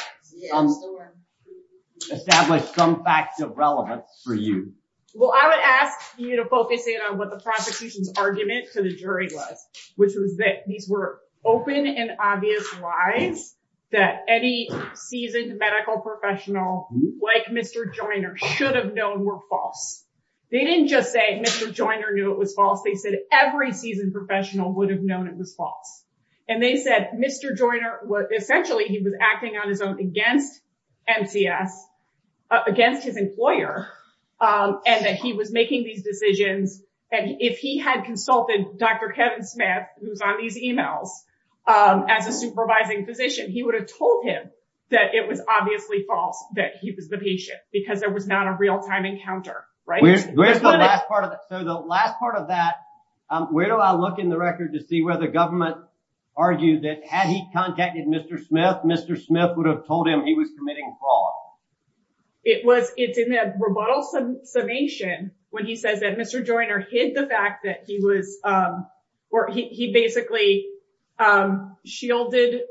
establish some facts of relevance for you. Well, I would ask you to focus in on what the prosecution's argument to the jury was, which was that these were open and obvious lies that any seasoned medical professional like Mr. Joyner should have known were false. They didn't just say Mr. Joyner knew it was false. They said every seasoned professional would have known it was false. And they said Mr. Joyner, essentially he was acting on his own against NCS, against his employer, and that he was making these decisions. And if he had consulted Dr. Kevin Smith, who's on these emails, as a supervising physician, he would have told him that it was obviously false that he was the patient because there was not a real-time encounter, right? So the last part of that, where do I look in the record to see whether government argues that had he contacted Mr. Smith, Mr. Smith would have told him he was committing false? It was in a remote summation when he said that Mr. Joyner hid the fact that he was, or he basically shielded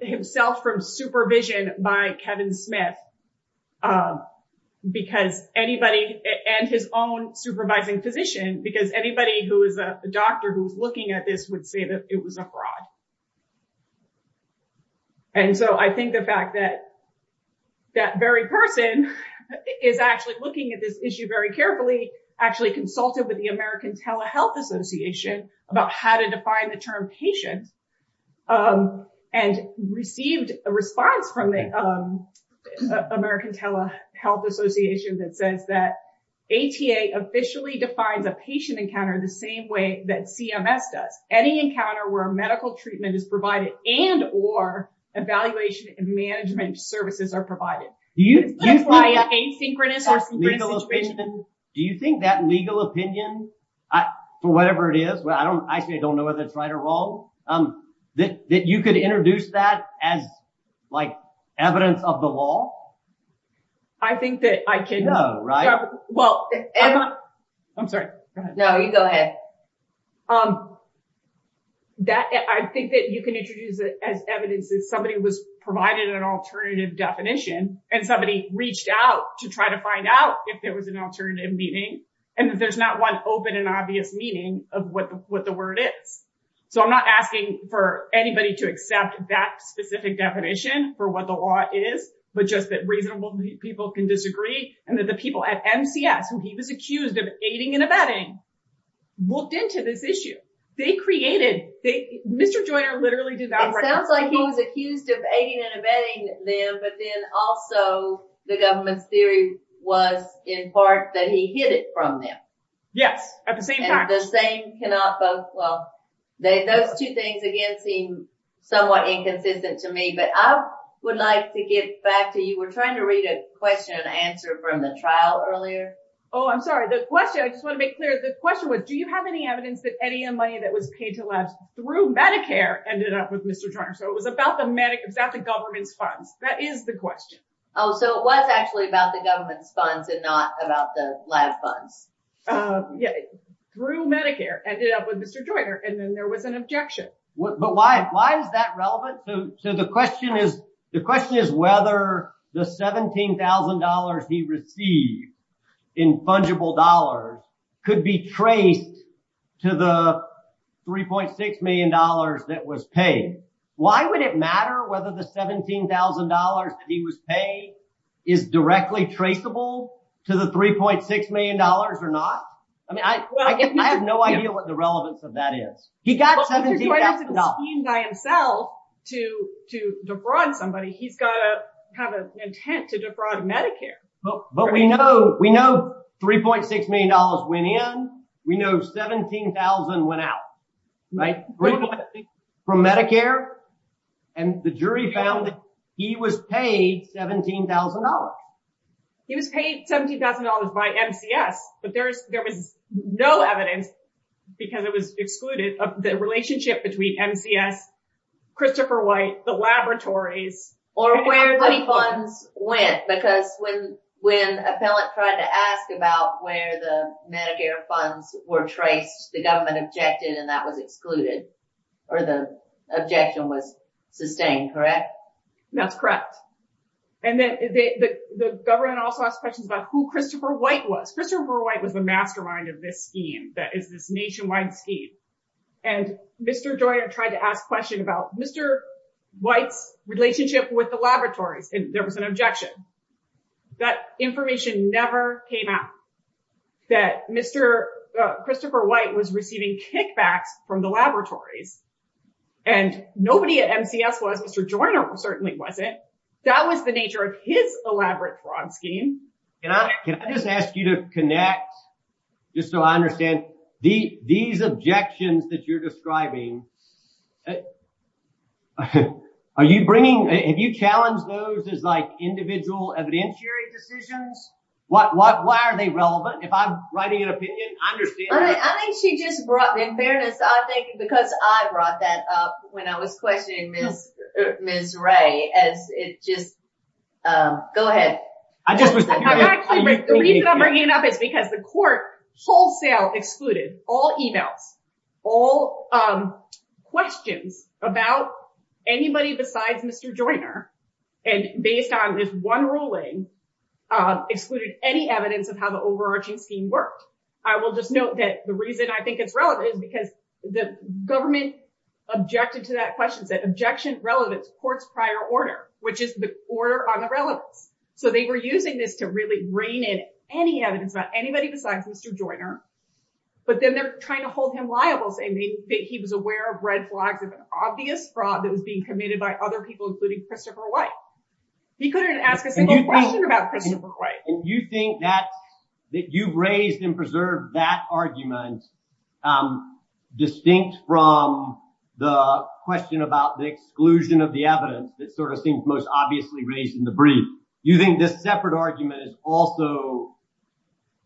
himself from supervision by Kevin Smith because anybody, and his own supervising physician, because anybody who is a doctor who's looking at this would say that it was a fraud. And so I think the fact that that very person is actually looking at this issue very carefully, actually consulted with the American Telehealth Association about how to define the term patient and received a response from the American Telehealth Association that says that ATA officially defines a patient encounter the same way that CMS does. Any encounter where medical treatment is provided and or evaluation and management services are provided. Do you think that legal opinion, whatever it is, I actually don't know whether it's right or wrong, that you could introduce that as evidence of the law? I think that I can. I'm sorry. No, you go ahead. I think that you can introduce it as evidence that somebody was provided an alternative definition and somebody reached out to try to find out if there was an alternative meaning and that there's not one open and obvious meaning of what the word is. So I'm not asking for anybody to accept that specific definition for what the law is, but just that reasonable people can disagree and that the people at MCS, who he was accused of aiding and abetting, looked into this issue. They created, Mr. Joyner literally did that. It sounds like he was accused of aiding and abetting them, but then also the government's theory was in part that he hid from them. Yes, at the same time. The same cannot boast. Well, those two things, again, seem somewhat inconsistent to me, but I would like to get back to you. We're trying to read a question and answer from the trial earlier. Oh, I'm sorry. The question, I just want to make clear, the question was, do you have any evidence that any of the money that was paid to us through Medicare ended up with Mr. Joyner? So it was about the government's funds. That is the question. Oh, so it was actually about the government's funds and not about the live funds. Yeah, through Medicare, ended up with Mr. Joyner, and then there was an objection. But why is that relevant? So the question is whether the $17,000 he received in fungible dollars could be trade to the $3.6 million that was paid. Why would it matter whether the $17,000 that he was paid is directly traceable to the $3.6 million or not? I mean, I have no idea what the relevance of that is. He got $17,000. Well, if he's trying to scheme by himself to defraud somebody, he's got to have an intent to defraud Medicare. But we know $3.6 million went in. We know $17,000 went out, right, from Medicare. And the jury found that he was paid $17,000. He was paid $17,000 by MCS, but there was no evidence, because it was excluded, of the relationship between MCS, Christopher White, the laboratories. Or where the funds went, because when an appellant tried to ask about where the Medicare funds were traced, the government objected and that was excluded, or the objection was sustained, correct? That's correct. And the government also asked questions about who Christopher White was. Christopher White was the mastermind of this scheme, this nationwide scheme. And Mr. Joyner tried to ask a question about Mr. White's relationship with the laboratories, and there was an objection. That information never came out that Christopher White was receiving kickback from the laboratory. And nobody at MCS was. Mr. Joyner certainly wasn't. That was the nature of his elaborate fraud scheme. Can I just ask you to connect, just so I understand, these objections that you're describing, are you bringing, have you challenged those as like individual evidentiary decisions? Why are they relevant? If I'm writing an opinion, I understand that. I think she just brought, in fairness, I think because I brought that up when I was questioning Ms. Ray, as it just, go ahead. The reason I'm bringing it up is because the court wholesale excluded all emails, all questions about anybody besides Mr. Joyner, and based on this one ruling, excluded any evidence of how the overarching scheme works. I will just note that the reason I think it's relevant is because the government objected to that question. The objection is relevant to the court's prior order, which is the order on irrelevant. So they were using this to really rein in any evidence about anybody besides Mr. Joyner, but then they're trying to hold him liable, saying that he was aware of red flags as an obvious fraud that was being committed by other people, including Christopher White. He couldn't ask a question about Christopher White. And you think that you've raised and preserved that argument, distinct from the question about the exclusion of the evidence that sort of seems most obviously raised in the brief. Do you think this separate argument is also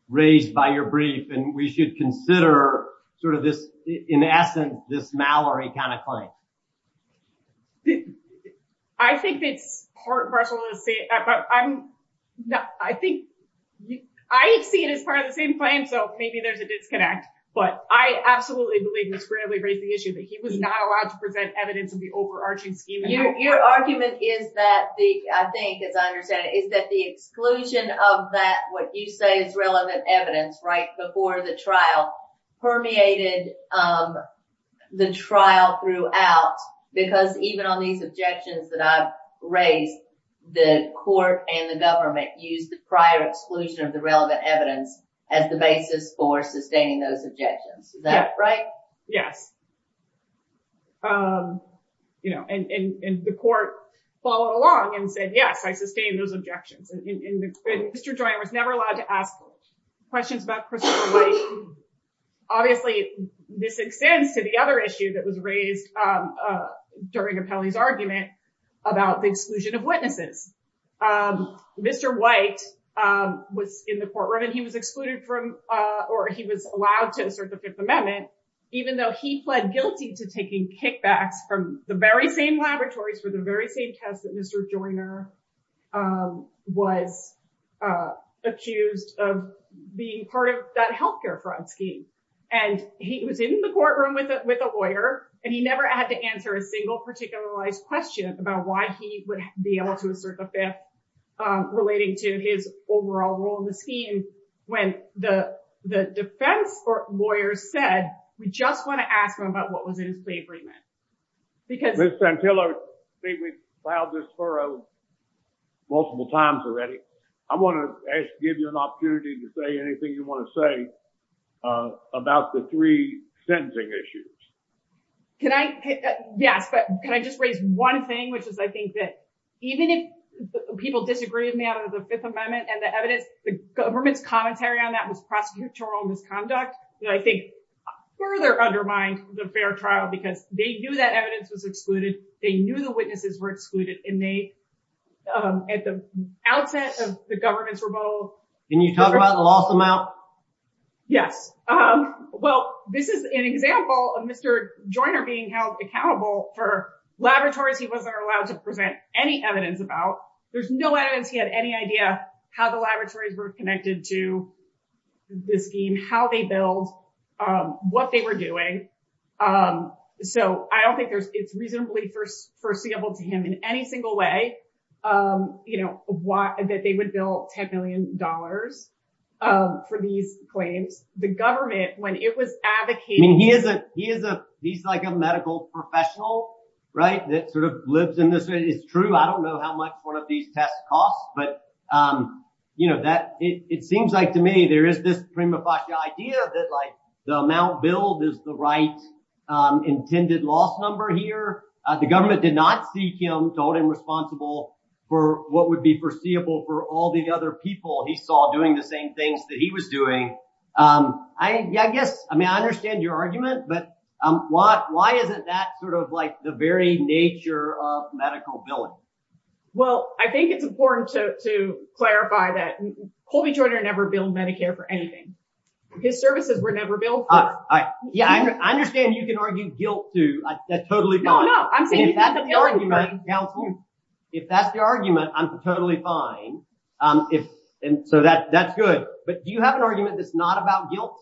raised by your brief, and we should consider sort of this, in essence, this Mallory kind of claim? Well, I think that, first of all, I think, I see it as part of the same plan, so maybe there's a disconnect, but I absolutely believe Mr. Bradley raised the issue that he was not allowed to present evidence in the overarching scheme. Your argument is that, I think, as I understand it, is that the exclusion of that, what you say is relevant evidence, right, before the trial, permeated the trial throughout, because even on these objections that I've raised, the court and the government used the prior exclusion of the relevant evidence as the basis for sustaining those objections. Is that right? Yes. And the court followed along and said, yes, by sustaining those objections. And Mr. White, obviously, this extends to the other issue that was raised during Appellee's argument about the exclusion of witnesses. Mr. White was in the courtroom, and he was excluded from, or he was allowed to assert the Fifth Amendment, even though he pled guilty to taking kickbacks from the very same laboratories for the very same test that Mr. White was being part of that health care fraud scheme. And he was in the courtroom with a lawyer, and he never had to answer a single particularized question about why he would be able to assert the Fifth relating to his overall role in the scheme, when the defense lawyer said, we just want to ask him about what was in his slave remit. Ms. Santillo, we've filed this furlough multiple times already. I want to actually give you an opportunity to say anything you want to say about the three sentencing issues. Can I just raise one thing, which is I think that even if people disagree with me on the Fifth Amendment and the evidence, the government's commentary on that was prosecutorial misconduct, that I think further undermines the fair trial, because they knew that evidence was excluded. They knew the witnesses were excluded, and they, at the outset of the government's removal, you talked about the lost amount. Yeah. Well, this is an example of Mr. Joyner being held accountable for laboratories he wasn't allowed to present any evidence about. There's no evidence he had any idea how the laboratories were connected to the scheme, how they built, what they were doing. So I don't think it's reasonably foreseeable to any single way that they would bill $10 million for these claims. The government, when it was advocating- He's like a medical professional that sort of lives in this way. It's true. I don't know how much one of these tests costs, but it seems like to me there is this prima facie idea that the amount billed is the right loss number here. The government did not seek him to hold him responsible for what would be foreseeable for all the other people he saw doing the same things that he was doing. I understand your argument, but why is it that sort of like the very nature of medical billing? Well, I think it's important to clarify that Colby Joyner never billed Medicare for anything. His services were never billed for. Yeah. I understand you can argue guilt too. That's totally fine. No, no. I'm saying- If that's your argument, I'm totally fine. So that's good. But do you have an argument that's not about guilt?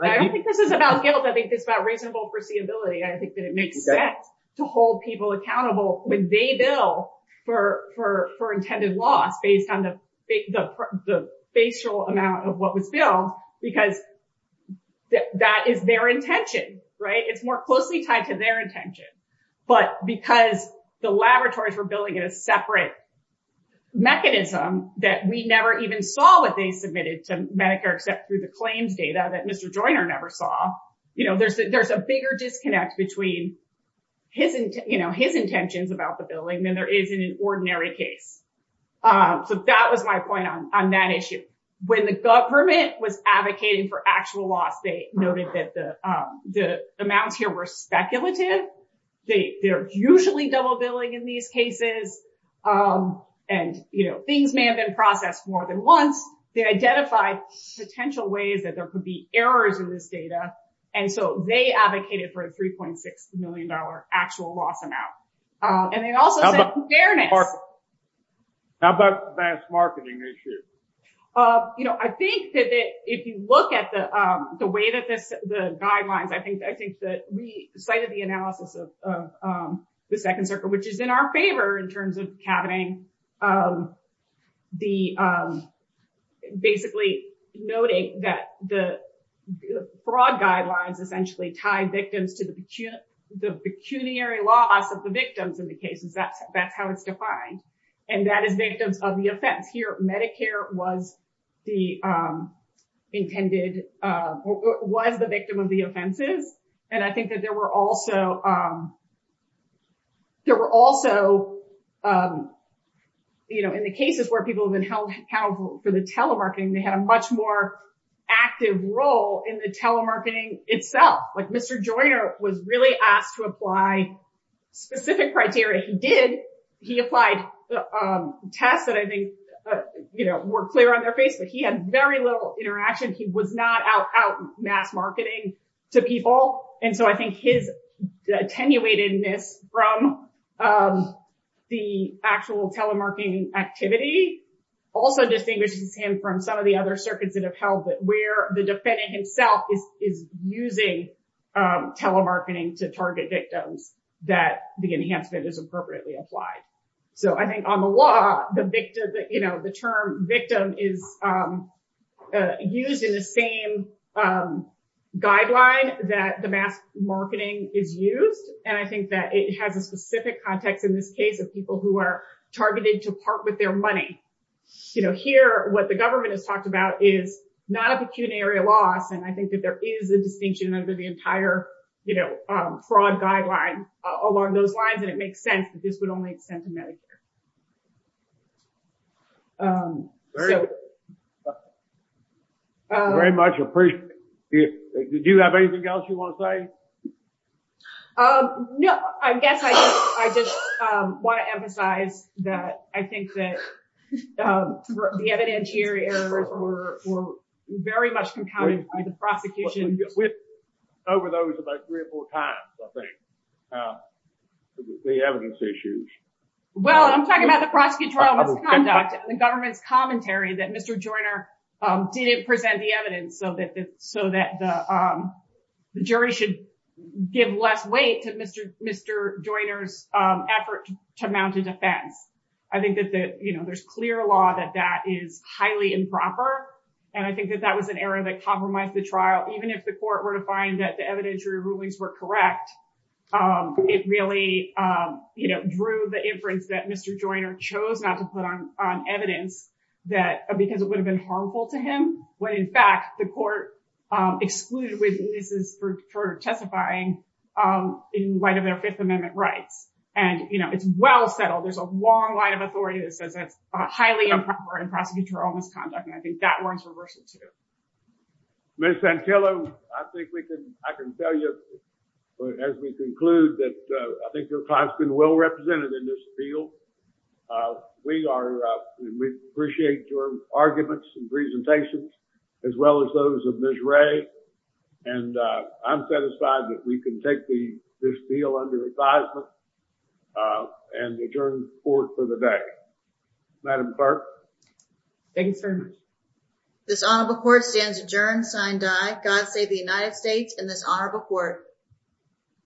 I don't think this is about guilt. I think it's about reasonable foreseeability. I think that it makes sense to hold people accountable when they bill for intended loss based on the facial amount of what was billed because that is their intention. It's more closely tied to their intention. But because the laboratories were billing at a separate mechanism that we never even saw what they submitted to Medicare except through the claims data that Mr. Joyner never saw, there's a bigger disconnect between his intentions about the billing than there is in an ordinary case. So that was my point on that issue. When the government was advocating for actual loss, they noticed that the amounts here were speculative. They're usually double billing in these cases and things may have been processed more than once. They identified potential ways that there could be errors in this data. And so they advocated for a $3.6 million actual loss and they also- How about the mass marketing issue? I think that if you look at the way that the guidelines, I think that we cited the analysis of the second circle, which is in our favor in terms of having the basically noting that the fraud guidelines essentially tied victims to the pecuniary loss of the victims in the cases. That's how it's defined. And that is victims of the offense. Here, Medicare was the intended, was the victim of the offenses. And I think that there were also, there were also, in the cases where people have been held accountable to the telemarketing, they had a much more active role in the telemarketing itself. Mr. Joyner was really asked to apply specific criteria. He did. He applied tests that I think were clear on their face, but he had very little interaction. He was not out mass marketing to people. And so I think his attenuated from the actual telemarketing activity also distinguishes him from some of the other circuits that have held it, where the defendant himself is using telemarketing to target victims that the enhancement is appropriately applied. So I think on the law, the term victim is used in the same guidelines that the mass marketing is used. And I think that it has a specific context in this case of people who are targeted to part with their money. Here, what the government has talked about is not a pecuniary loss. And I think that there is a distinction over the entire fraud guidelines along those lines. And it makes sense that this would only extend to Medicare. Very much appreciate it. Did you have anything else you want to say? No, I guess I just want to emphasize that I think that the evidence here were very much compounded by the prosecution. Over those about three or four times, I think, the evidence issues. Well, I'm talking about the prosecutorial conduct, the government commentary that Mr. Joyner didn't present the evidence so that the jury should give less weight to Mr. Joyner's effort to mount a defense. I think that there's clear law that that is highly improper. And I think that that was an error that compromised the trial. Even if the court were to find that the evidentiary rulings were correct, it really drew the inference that Mr. Joyner chose not to put on evidence because it would have been harmful to him, when in fact, the court excluded witnesses for testifying in light of their Fifth Amendment rights. And, you know, it's well settled. There's a long line of authority that says that highly improper and prosecutorial misconduct. And I think that one's reversed too. Ms. Santillo, I think we can, I can tell you as we conclude that I think you're possibly well represented in this field. Uh, we are, uh, we appreciate your arguments and presentations as well as those of Ms. Ray. And, uh, I'm satisfied that we can take the, this deal under advisement, uh, and adjourn the court for the day. Madam Clerk. Thank you, sir. This Honorable Court stands adjourned, signed by God save the United States and this Honorable Court.